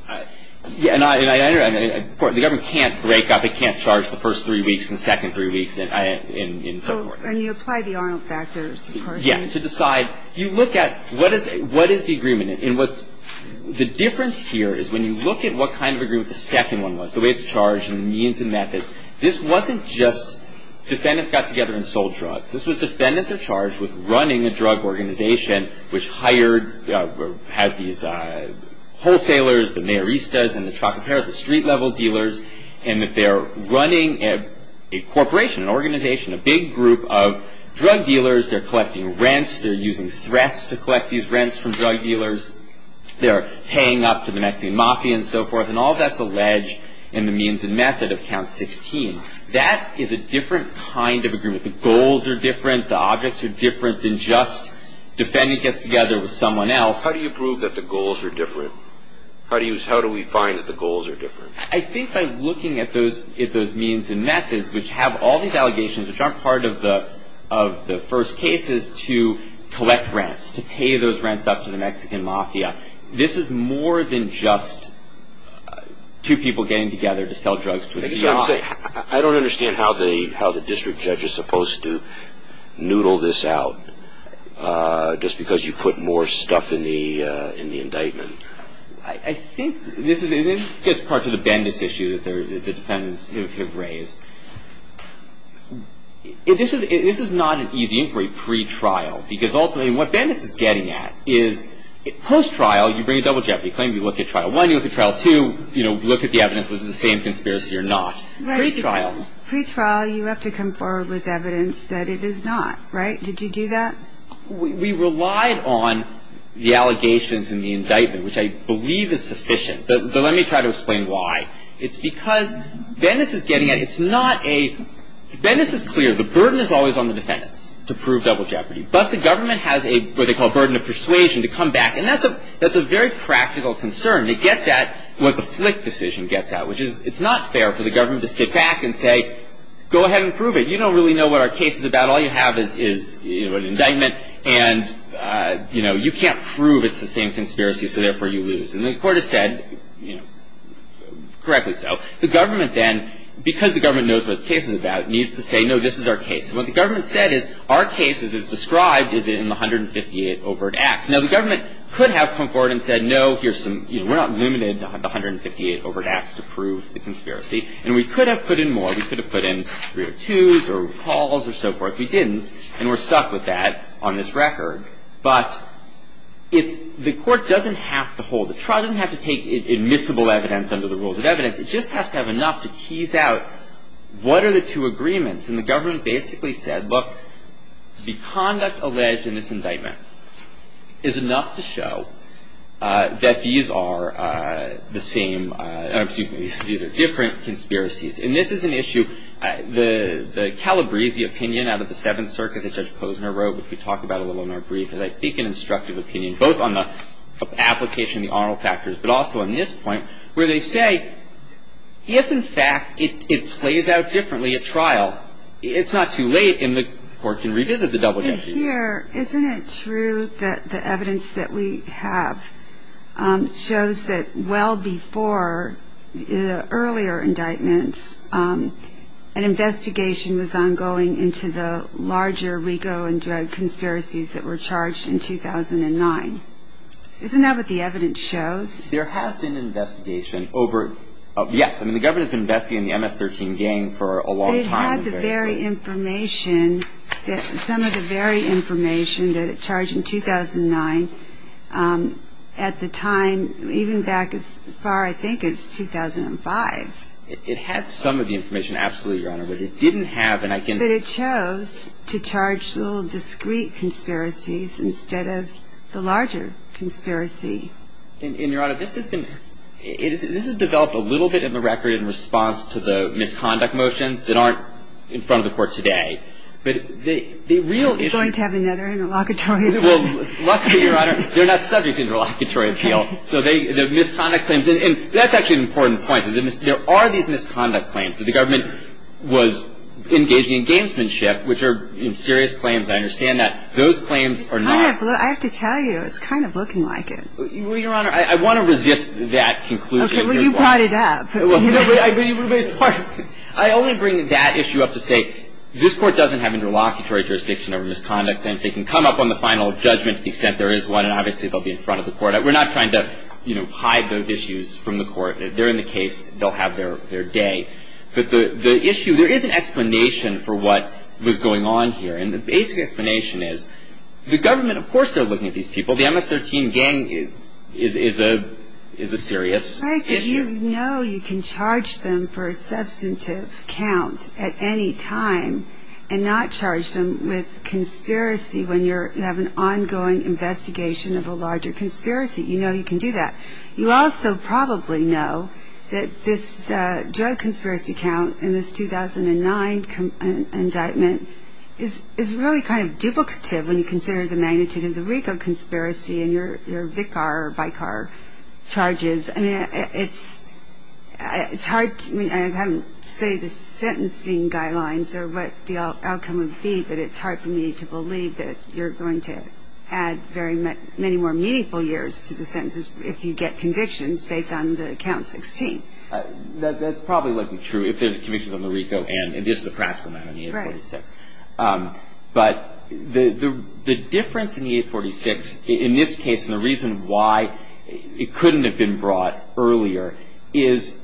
The government can't break up. It can't charge the first three weeks and the second three weeks and so forth. And you apply the Arnold-Thatcher proportion. Yes, to decide. You look at what is the agreement. The difference here is, when you look at what kind of agreement the second one was, the way it's charged and the means and methods, this wasn't just defendants got together and sold drugs. This was defendants are charged with running a drug organization which hired, has these wholesalers, the mayoristas, and the street-level dealers, and that they're running a corporation, an organization, a big group of drug dealers. They're collecting rents. They're using threats to collect these rents from drug dealers. They're paying up to the nasty mafia and so forth, and all that's alleged in the means and method of Count 16. That is a different kind of agreement. The goals are different. The objects are different than just defendants get together with someone else. How do you prove that the goals are different? How do we find that the goals are different? I think by looking at those means and methods, which have all these allegations, which aren't part of the first case, is to collect rents, to pay those rents up to the Mexican mafia. This is more than just two people getting together to sell drugs. I don't understand how the district judge is supposed to noodle this out, just because you put more stuff in the indictment. I think this gets part of the Bendis issue that the defendants have raised. This is not an easy inquiry, pre-trial, because ultimately what Bendis is getting at is post-trial, you bring a double check. They claim you looked at trial one, you looked at trial two, you looked at the evidence, it was the same conspiracy or not. Pre-trial. Pre-trial, you have to come forward with evidence that it is not, right? Did you do that? We relied on the allegations and the indictment, which I believe is sufficient, but let me try to explain why. It's because Bendis is getting at, it's not a, Bendis is clear, the burden is always on the defendants to prove double jeopardy, but the government has a, what they call, burden of persuasion to come back, and that's a very practical concern. To get that, it was a slick decision to get that, which is, it's not fair for the government to sit back and say, go ahead and prove it, you don't really know what our case is about, all you have is, you know, an indictment, and, you know, you can't prove it's the same conspiracy, so therefore you lose. And the court has said, you know, correctly so. The government then, because the government knows what the case is about, needs to say, no, this is our case. What the government said is, our case, as it's described, is in the 158 Overt Act. Now, the government could have come forward and said, no, here's some, you know, we're not limited to the 158 Overt Acts to prove the conspiracy, and we could have put in more. We could have put in 302s or recalls or so forth. We didn't, and we're stuck with that on this record. But the court doesn't have to hold it. The trial doesn't have to take admissible evidence under the rules of evidence. It just has to have enough to tease out, what are the two agreements? And the government basically said, look, the conduct alleged in this indictment is enough to show that these are the same, excuse me, these are different conspiracies. And this is an issue, the Calabrese opinion out of the Seventh Circuit, as Judge Posner wrote, which we talk about a little in our brief, is, I think, an instructive opinion, both on the application of the oral factors, but also on this point, where they say, yes, in fact, it plays out differently at trial. It's not too late, and the court can revisit the double-duty. Here, isn't it true that the evidence that we have shows that well before the earlier indictments, an investigation was ongoing into the larger RICO and drug conspiracies that were charged in 2009? Isn't that what the evidence shows? There has been an investigation over, yes, and the government's been investigating the MS-13 gang for a long time. It's not the very information, some of the very information that it charged in 2009. At the time, even back as far as I think it's 2005. It had some of the information, absolutely, Your Honor, but it didn't have an identity. But it chose to charge little discrete conspiracies instead of the larger conspiracy. And, Your Honor, this has been, this has developed a little bit in the record in response to the misconduct motions that aren't in front of the court today. But the real issue. It's going to have another interlocutory appeal. Well, luckily, Your Honor, they're not subject to an interlocutory appeal. So the misconduct claims, and that's actually an important point. There are these misconduct claims that the government was engaging in gamesmanship, which are serious claims, and I understand that. Those claims are not. I have to tell you, it's kind of looking like it. Well, Your Honor, I want to resist that conclusion. Okay, well, you've got it up. I want to bring that issue up to say this court doesn't have interlocutory jurisdiction over misconduct. And if they can come up on the final judgment to the extent there is one, obviously they'll be in front of the court. We're not trying to, you know, hide those issues from the court. If they're in the case, they'll have their day. But the issue, there is an explanation for what was going on here. And the basic explanation is the government, of course, they're looking at these people. Well, the MS-13 gang is a serious issue. Frank, you know you can charge them for a substantive count at any time and not charge them with conspiracy when you have an ongoing investigation of a larger conspiracy. You know you can do that. You also probably know that this drug conspiracy count in this 2009 indictment is really kind of duplicative when you consider the magnitude of the RICO conspiracy and your VICAR or BICAR charges. I mean, it's hard to say the sentencing guidelines or what the outcome would be, but it's hard for me to believe that you're going to add many more meaningful years to the sentences if you get convictions based on the count 16. That probably wasn't true if there's convictions on the RICO and just the practical amount of money. Right. I don't know. But the difference in the 846, in this case, and the reason why it couldn't have been brought earlier, is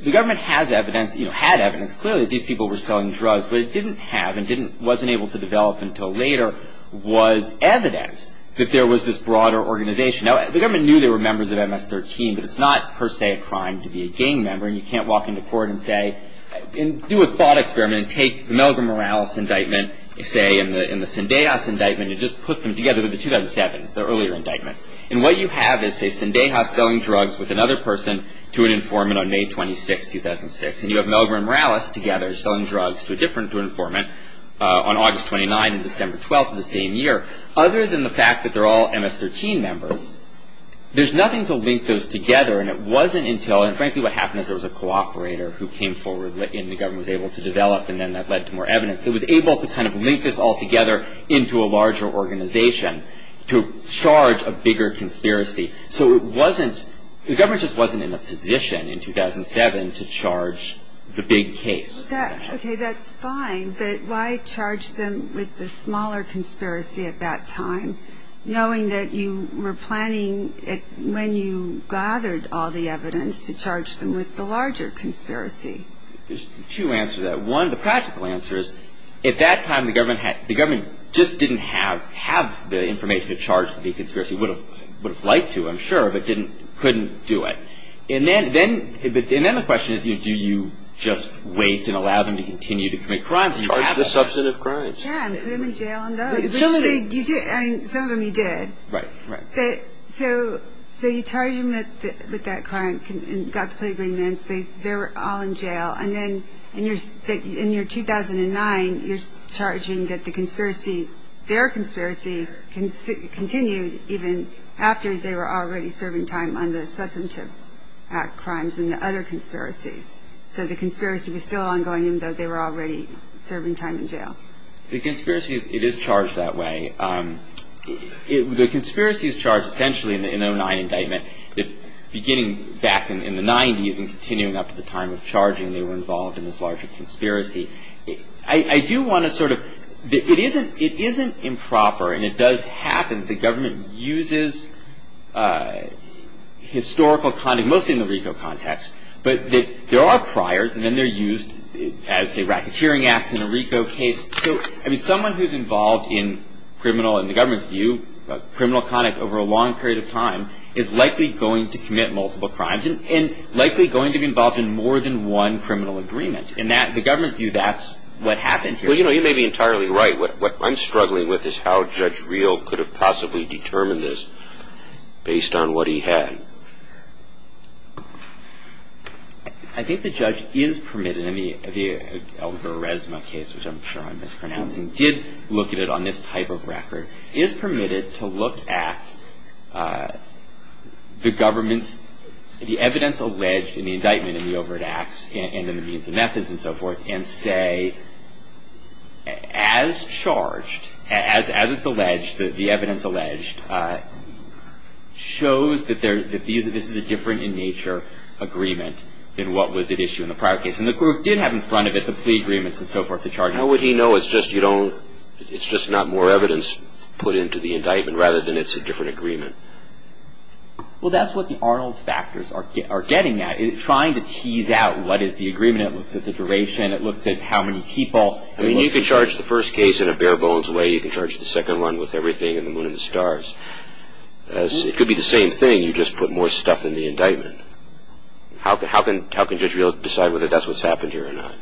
the government has evidence, you know, had evidence clearly that these people were selling drugs. What it didn't have and wasn't able to develop until later was evidence that there was this broader organization. Now, the government knew they were members of MS-13, but it's not per se a crime to be a gang member. It's not a crime to be a gang member and you can't walk into court and say, do a thought experiment and take the Milgram Morales indictment, say, and the Sundehouse indictment and just put them together with the 2007, the earlier indictment. And what you have is, say, Sundehouse selling drugs with another person to an informant on May 26, 2006, and you have Milgram Morales together selling drugs to a different informant on August 29 and December 12 of the same year, other than the fact that they're all MS-13 members. There's nothing to link those together and it wasn't until, and frankly, what happened is there was a cooperator who came forward and the government was able to develop and then that led to more evidence. It was able to kind of link this all together into a larger organization to charge a bigger conspiracy. So, it wasn't, the government just wasn't in a position in 2007 to charge the big case. Okay, that's fine, but why charge them with the smaller conspiracy at that time, knowing that you were planning, when you gathered all the evidence, to charge them with the larger conspiracy? There's two answers to that. One, the practical answer is, at that time the government just didn't have the information to charge the big conspiracy. It would have liked to, I'm sure, but couldn't do it. And then the question is, do you just wait and allow them to continue to commit crimes? Charge the substantive crimes. Yeah, and put them in jail and go. Some of them you did. Right, right. So, you charge them with that crime and got to play green men. They're all in jail. And then, in your 2009, you're charging that the conspiracy, their conspiracy, continued even after they were already serving time on the Substantive Act crimes and the other conspiracies. So, the conspiracy was still ongoing even though they were already serving time in jail. The conspiracy, it is charged that way. The conspiracy is charged, essentially, in the 2009 indictment, beginning back in the 90s and continuing up to the time of charging they were involved in this larger conspiracy. I do want to sort of, it isn't improper, and it does happen, that the government uses historical context, mostly in the RICO context, but there are priors, and then they're used as a racketeering act in a RICO case. So, I mean, someone who's involved in criminal, in the government's view, criminal conduct over a long period of time is likely going to commit multiple crimes and likely going to be involved in more than one criminal agreement. In the government's view, that's what happened here. Well, you know, you may be entirely right. What I'm struggling with is how Judge Reel could have possibly determined this based on what he had. I think the judge is permitted, I mean, the Alvarezma case, which I'm sure I'm mispronouncing, did look at it on this type of record, is permitted to look at the government, the evidence alleged in the indictment and the overt acts and the means and methods and so forth, and say, as charged, as it's alleged, the evidence alleged, shows that there's the view that this is a different in nature agreement than what was at issue in the prior case. And the group did have in front of it the plea agreements and so forth to charge it. How would he know it's just not more evidence put into the indictment rather than it's a different agreement? Well, that's what the Arnold factors are getting at, is trying to tease out what is the agreement. It looks at the duration. It looks at how many people. I mean, you can charge the first case in a bare bones way. You can charge the second one with everything and the moon and the stars. It could be the same thing. You just put more stuff in the indictment. How can Judge Reel decide whether that's what's happened here or not?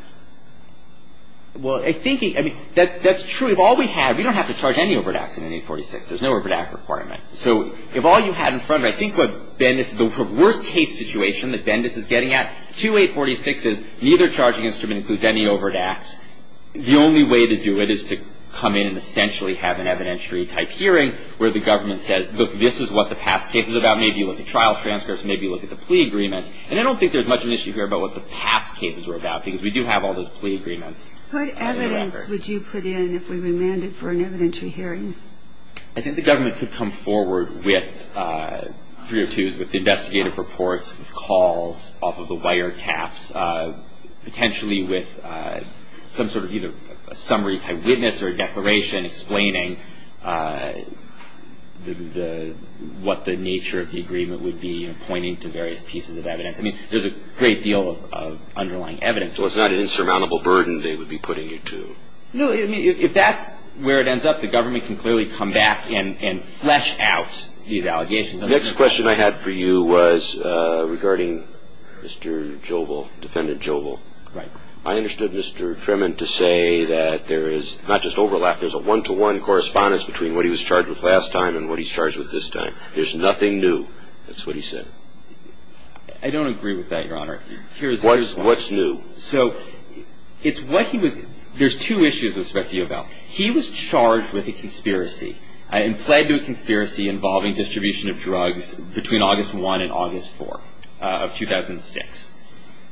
Well, I think, I mean, that's true. If all we have, we don't have to charge any overt acts in 846. There's no overt act requirement. So if all you had in front of it, I think what Bendis, the worst case situation that Bendis is getting at, 2846 is neither charging instrument includes any overt acts. The only way to do it is to come in and essentially have an evidentiary type hearing where the government says, look, this is what the past case was about. Maybe you look at trial transfers. Maybe you look at the plea agreements. And I don't think there's much of an issue here about what the past cases were about because we do have all those plea agreements. What evidence would you put in if we were landed for an evidentiary hearing? I think the government could come forward with three or twos with investigative reports, with calls off of the wiretaps, potentially with some sort of either a summary eyewitness or a declaration explaining what the nature of the agreement would be and pointing to various pieces of evidence. I mean, there's a great deal of underlying evidence. So it's not an insurmountable burden they would be putting it to. No, if that's where it ends up, the government can clearly come back and flesh out the allegations. The next question I had for you was regarding Mr. Jobel, defendant Jobel. Right. I understood Mr. Tremont to say that there is not just overlap, there's a one-to-one correspondence between what he was charged with last time and what he's charged with this time. There's nothing new. That's what he said. I don't agree with that, Your Honor. What's new? So, it's what he was-there's two issues with respect to Jobel. He was charged with a conspiracy and pled to a conspiracy involving distribution of drugs between August 1 and August 4 of 2006.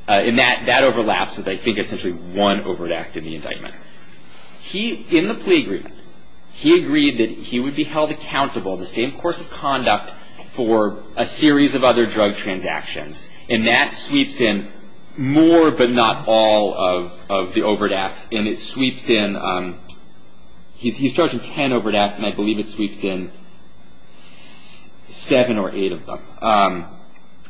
And that overlaps with, I think, essentially one overt act in the indictment. In the plea agreement, he agreed that he would be held accountable in the same course of conduct for a series of other drug transactions. And that sweeps in more, but not all, of the overt acts. And it sweeps in-he's charged with ten overt acts, and I believe it sweeps in seven or eight of them.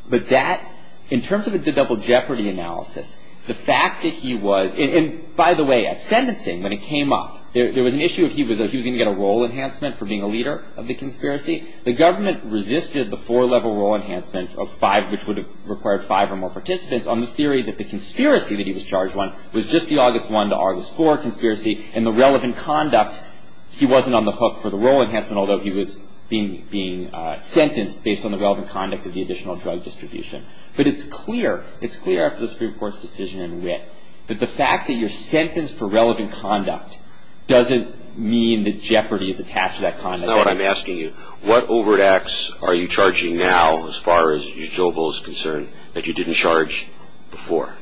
But that-in terms of the double jeopardy analysis, the fact that he was- and, by the way, I said this thing when it came up. There was an issue of he was going to get a role enhancement for being a leader of the conspiracy. The government resisted the four-level role enhancement, which would have required five or more participants, on the theory that the conspiracy that he was charged with was just the August 1 to August 4 conspiracy, and the relevant conduct-he wasn't on the hook for the role enhancement, although he was being sentenced based on the relevant conduct of the additional drug distribution. But it's clear-it's clear after the Supreme Court's decision in wit that the fact that you're sentenced for relevant conduct doesn't mean that jeopardy is attached to that conduct. So now I'm asking you, what overt acts are you charging now, as far as Jehobo is concerned, that you didn't charge before?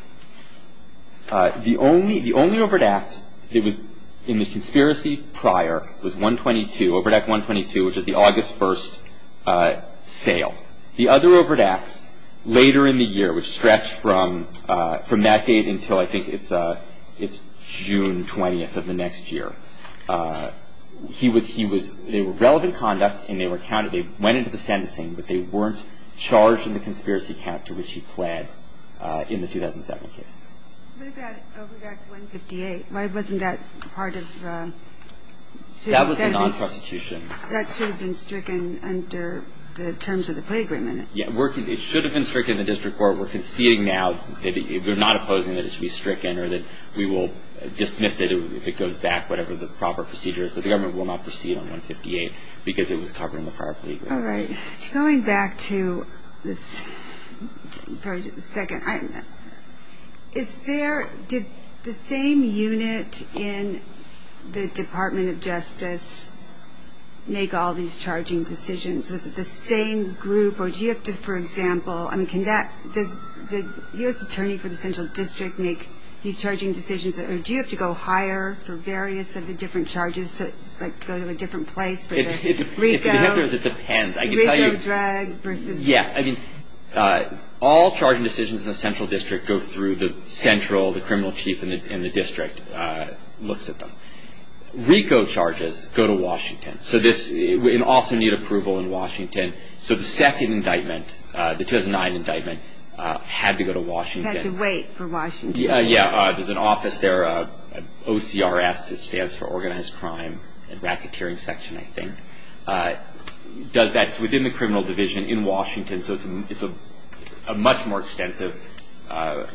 The only overt act that was in the conspiracy prior was 122, overt act 122, which is the August 1 sale. The other overt act later in the year, which stretched from that date until, I think it's June 20 of the next year, they were relevant conduct and they were counted-they went into the sentencing, but they weren't charged in the conspiracy count to which he pled in the 2007 case. What about overt act 158? Why wasn't that part of- That was a non-prosecution. That should have been stricken under the terms of the plea agreement. Yeah, it should have been stricken in the district court. We're conceding now. We're not opposing that it should be stricken, or that we will dismiss it if it goes back, whatever the proper procedure is, but the government will not proceed on 158 because it was covered in the part of the plea agreement. All right. Going back to this-sorry, just a second. Is there-did the same unit in the Department of Justice make all these charging decisions? Was it the same group, or do you have to, for example, I mean, can that-did the U.S. Attorney for the Central District make these charging decisions, or do you have to go higher for various of the different charges, like go to a different place for the RICO? It depends. RICO drug versus- Yeah, I mean, all charging decisions in the Central District go through the Central, the criminal chief in the district looks at them. RICO charges go to Washington, so this-and also need approval in Washington. So the second indictment, the 2009 indictment, had to go to Washington. It had to wait for Washington. Yeah, yeah. There's an office there, OCRS, which stands for Organized Crime and Racketeering Section, I think. That's within the criminal division in Washington, so it's a much more extensive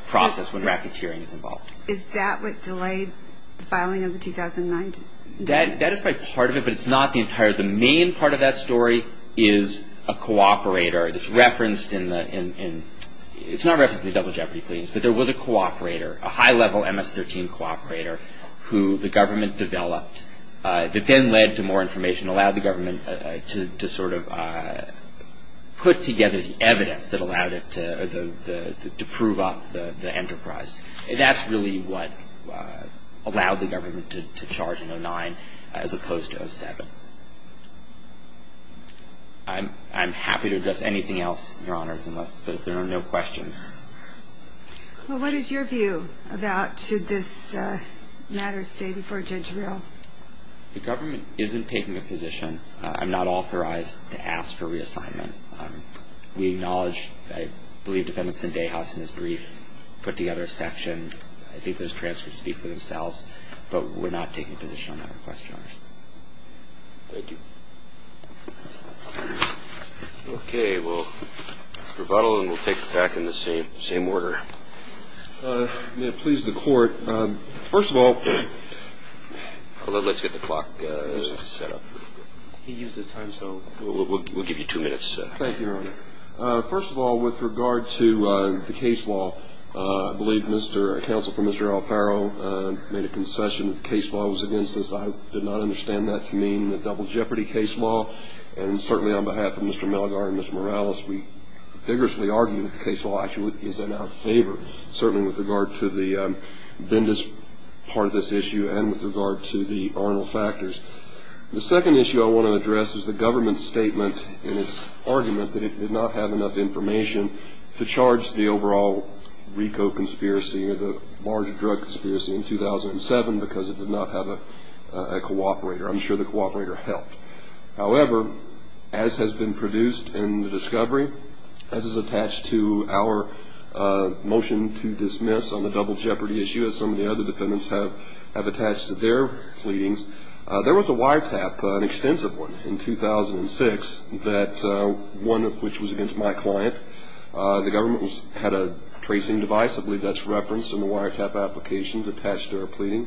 process when racketeering is involved. Is that what delayed the filing of the 2019? That is part of it, but it's not the entire. The main part of that story is a cooperator that's referenced in the-it's not referenced in the Double Jeopardy, please, but there was a cooperator, a high-level MS-13 cooperator who the government developed, that then led to more information, allowed the government to sort of put together the evidence that allowed it to prove off the enterprise. And that's really what allowed the government to charge in 2009 as opposed to 2007. I'm happy to address anything else, Your Honors, unless there are no questions. Well, what is your view about should this matter stay before Judge Rill? The government isn't taking a position. I'm not authorized to ask for reassignment. We acknowledge, I believe, Defendant Sindehas, in his brief, put together a section. I think those transcripts speak for themselves, but we're not taking a position on that request, Your Honors. Thank you. Okay, well, rebuttal, and we'll take it back in the same order. May it please the Court, first of all- Let's get the clock set up. He used the time, so we'll give you two minutes. Thank you, Your Honor. First of all, with regard to the case law, I believe Counsel for Mr. Alfaro made a concession that the case law was against us. I did not understand that to mean the double jeopardy case law. And certainly on behalf of Mr. Malgar and Mr. Morales, we vigorously argue that the case law actually is in our favor, certainly with regard to the Bendis part of this issue and with regard to the Arnold factors. The second issue I want to address is the government's statement in its argument that it did not have enough information to charge the overall RICO conspiracy or the larger drug conspiracy in 2007 because it did not have a cooperator. I'm sure the cooperator helped. However, as has been produced in the discovery, as is attached to our motion to dismiss on the double jeopardy issue, as some of the other defendants have attached to their pleadings, there was a wiretap, an extensive one, in 2006, one of which was against my client. The government had a tracing device, I believe that's referenced in the wiretap applications attached to our pleading.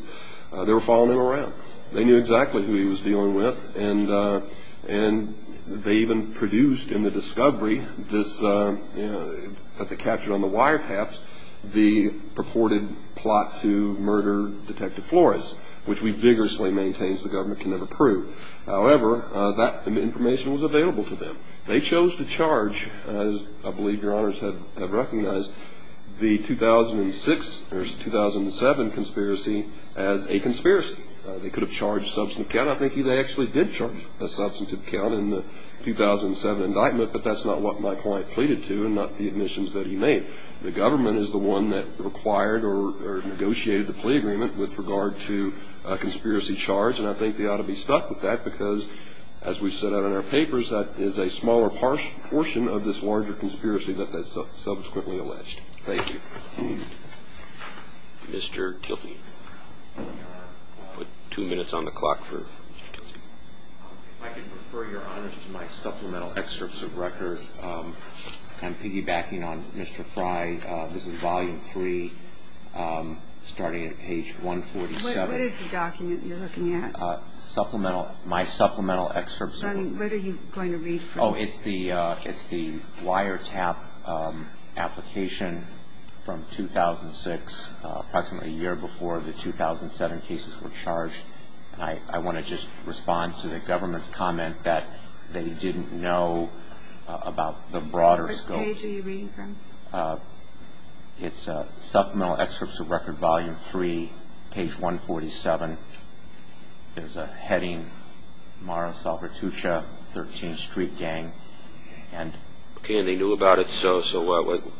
They were following it around. They knew exactly who he was dealing with, and they even produced in the discovery that the capture on the wiretaps, the purported plot to murder Detective Flores, which we vigorously maintain the government can never prove. However, that information was available to them. They chose to charge, as I believe Your Honors have recognized, the 2006 versus 2007 conspiracy as a conspiracy. They could have charged substantive count. I think they actually did charge a substantive count in the 2007 indictment, but that's not what my client pleaded to and not the admissions that he made. The government is the one that required or negotiated the plea agreement with regard to a conspiracy charge, and I think they ought to be stuck with that because, as we set out in our papers, that is a smaller portion of this larger conspiracy that they subsequently alleged. Thank you. Mr. Kilkey. Two minutes on the clock for Mr. Kilkey. If I could refer Your Honors to my supplemental excerpts of records. I'm piggybacking on Mr. Frye. This is volume three, starting at page 147. What is the document you're looking at? Supplemental. My supplemental excerpts of records. What are you going to read? Oh, it's the wiretap application from 2006, approximately a year before the 2007 cases were charged. I want to just respond to the government's comment that they didn't know about the broader scope. What page are you reading from? It's supplemental excerpts of record volume three, page 147. There's a heading, Mara Salvatrucha, 13th Street Gang. Okay, and they knew about it, so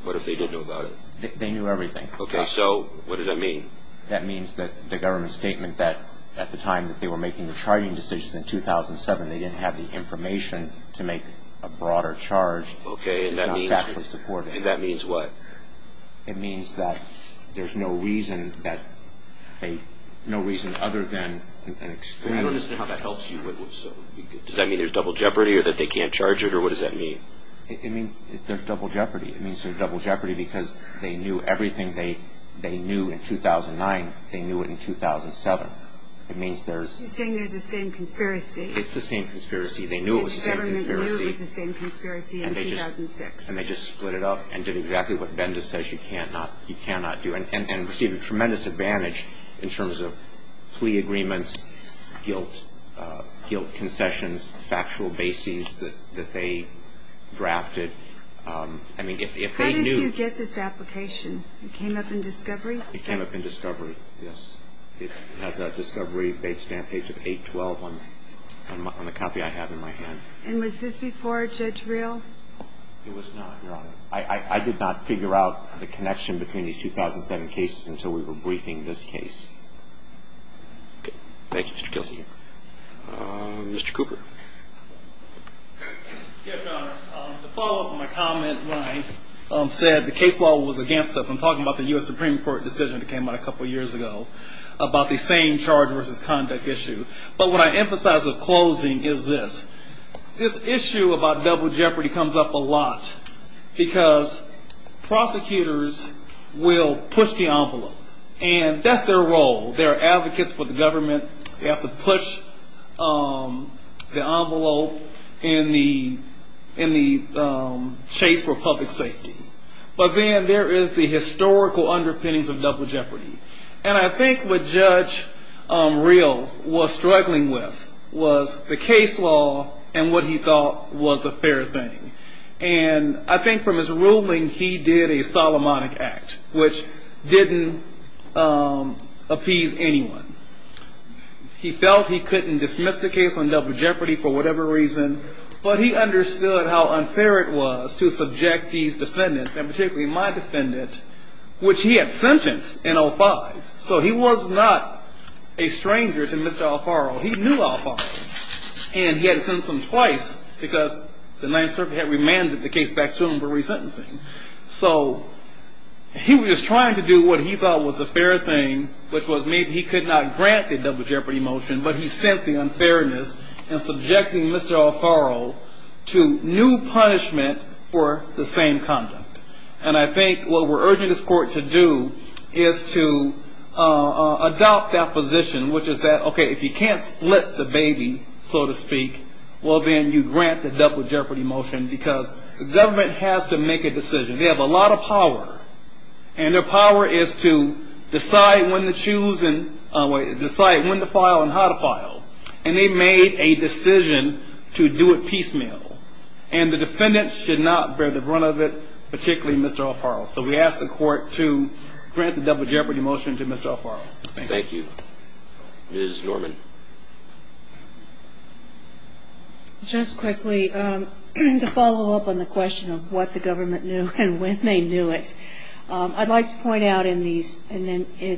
what if they didn't know about it? Okay, so what does that mean? That means that the government's statement that at the time that they were making the charging decision in 2007, they didn't have the information to make a broader charge. Okay, and that means what? It means that there's no reason other than an exclusion. I don't understand how that helps you. Does that mean there's double jeopardy or that they can't charge it, or what does that mean? It means there's double jeopardy. It means there's double jeopardy because they knew everything they knew in 2009. They knew it in 2007. It means there's... You're saying there's the same conspiracy. It's the same conspiracy. They knew it was the same conspiracy. The government knew it was the same conspiracy in 2006. And they just split it up and did exactly what Bendis says you cannot do, and received a tremendous advantage in terms of plea agreements, guilt concessions, factual bases that they drafted. I mean, if they knew... When did you get this application? It came up in discovery? It came up in discovery, yes. It has a discovery-based stamp page of 812 on the copy I have in my hand. And was this before Judge Real? It was not, no. I did not figure out the connection between the 2007 cases until we were briefing this case. Thank you, Mr. Kelsey. Mr. Cooper. Yes, Your Honor. To follow up on my comment when I said the case law was against us, I'm talking about the U.S. Supreme Court decision that came out a couple of years ago about the same charge versus conduct issue. But what I emphasize at closing is this. This issue about double jeopardy comes up a lot because prosecutors will push the envelope. And that's their role. They're advocates for the government. They have to push the envelope in the chase for public safety. But then there is the historical underpinnings of double jeopardy. And I think what Judge Real was struggling with was the case law and what he thought was a fair thing. And I think from his ruling, he did a Solomonic Act, which didn't appease anyone. He felt he couldn't dismiss the case on double jeopardy for whatever reason. But he understood how unfair it was to subject these defendants, and particularly my defendants, which he had sentenced in 05. So he was not a stranger to Mr. Alfaro. He knew Alfaro. And he had to sentence him twice because the Ninth Circuit had remanded the case back to him for resentencing. So he was trying to do what he felt was a fair thing, which was maybe he could not grant the double jeopardy motion, but he sensed the unfairness in subjecting Mr. Alfaro to new punishment for the same conduct. And I think what we're urging this court to do is to adopt that position, which is that, okay, if you can't split the baby, so to speak, well, then you grant the double jeopardy motion, because the government has to make a decision. They have a lot of power. And their power is to decide when to file and how to file. And they made a decision to do it piecemeal. And the defendants should not bear the brunt of it, particularly Mr. Alfaro. So we ask the court to grant the double jeopardy motion to Mr. Alfaro. Thank you. Ms. Norman. Just quickly, to follow up on the question of what the government knew and when they knew it, I'd like to point out in the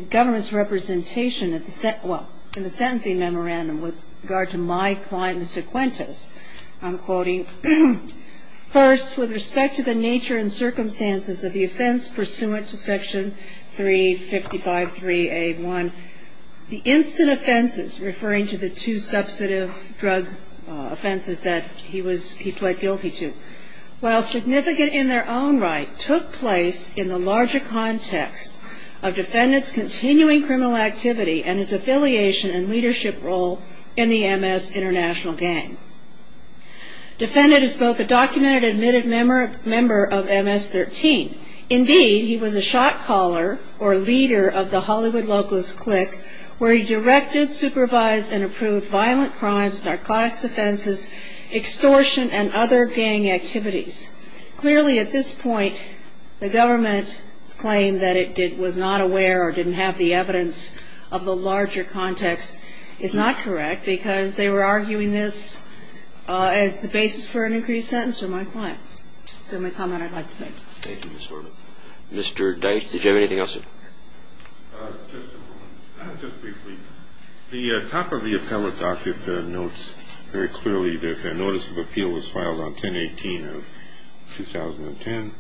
government's representation in the sentencing memorandum with regard to my client, I'm quoting, First, with respect to the nature and circumstances of the offense pursuant to Section 355.3A.1, the instant offenses, referring to the two substantive drug offenses that he pled guilty to, while significant in their own right, took place in the larger context of defendants' continuing criminal activity and his affiliation and leadership role in the MS international gang. Defendant is both a documented and admitted member of MS-13. Indeed, he was a shot caller or leader of the Hollywood Locals clique, where he directed, supervised, and approved violent crimes, narcotics offenses, extortion, and other gang activities. Clearly, at this point, the government's claim that it was not aware or didn't have the evidence of the larger context is not correct, because they were arguing this as the basis for an increased sentence for my client. That's the only comment I'd like to make. Thank you, Ms. Norman. Mr. Dice, did you have anything else? Just briefly. The top of the appellate docket notes very clearly that a Notice of Appeal was filed on 10-18 of 2010,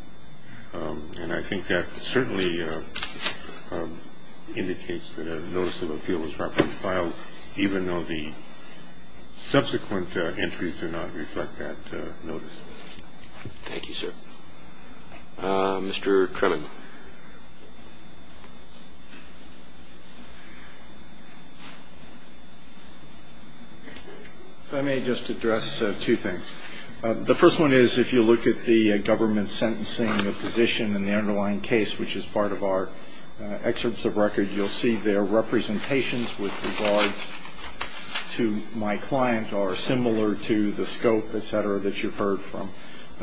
and I think that certainly indicates that a Notice of Appeal was properly filed, even though the subsequent entries do not reflect that notice. Thank you, sir. Mr. Kremen. If I may just address two things. The first one is, if you look at the government sentencing of position in the underlying case, which is part of our excerpts of records, you'll see their representations with regard to my client are similar to the scope, et cetera, that you've heard from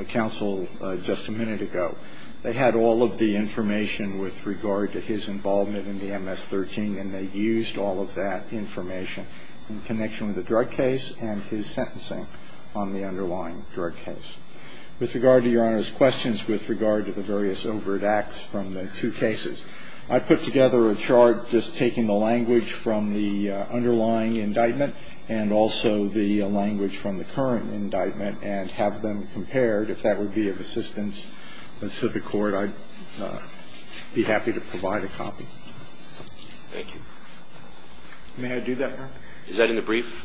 counsel just a minute ago. They had all of the information with regard to his involvement in the MS-13, and they used all of that information in connection with the drug case and his sentencing on the underlying drug case. With regard to Your Honor's questions with regard to the various overt acts from the two cases, I put together a chart just taking the language from the underlying indictment and also the language from the current indictment and have them compared. If that would be of assistance to the court, I'd be happy to provide a copy. Thank you. May I do that, Your Honor? Is that in the brief?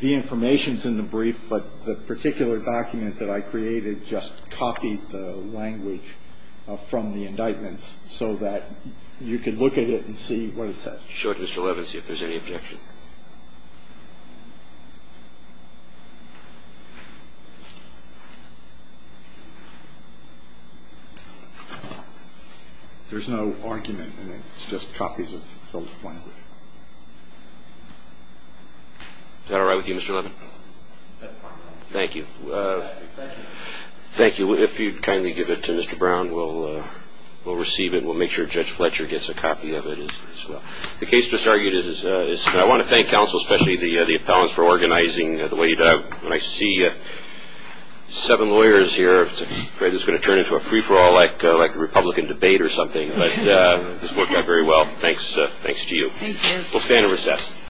The information's in the brief, but the particular document that I created just copied the language from the indictment so that you could look at it and see what it says. Sure, Mr. Levins, if there's any objection. There's no argument in it. It's just copies of the language. Is that all right with you, Mr. Levins? That's fine. Thank you. Thank you. Thank you. If you'd kindly give it to Mr. Brown, we'll receive it and we'll make sure Judge Fletcher gets a copy of it as well. The case just argued is, I want to thank counsel, especially the appellants, for organizing the way you did. When I see seven lawyers here, I pray this is going to turn into a free-for-all-like Republican debate or something, but it's working out very well. Thanks to you. Thank you. We'll stand and recess.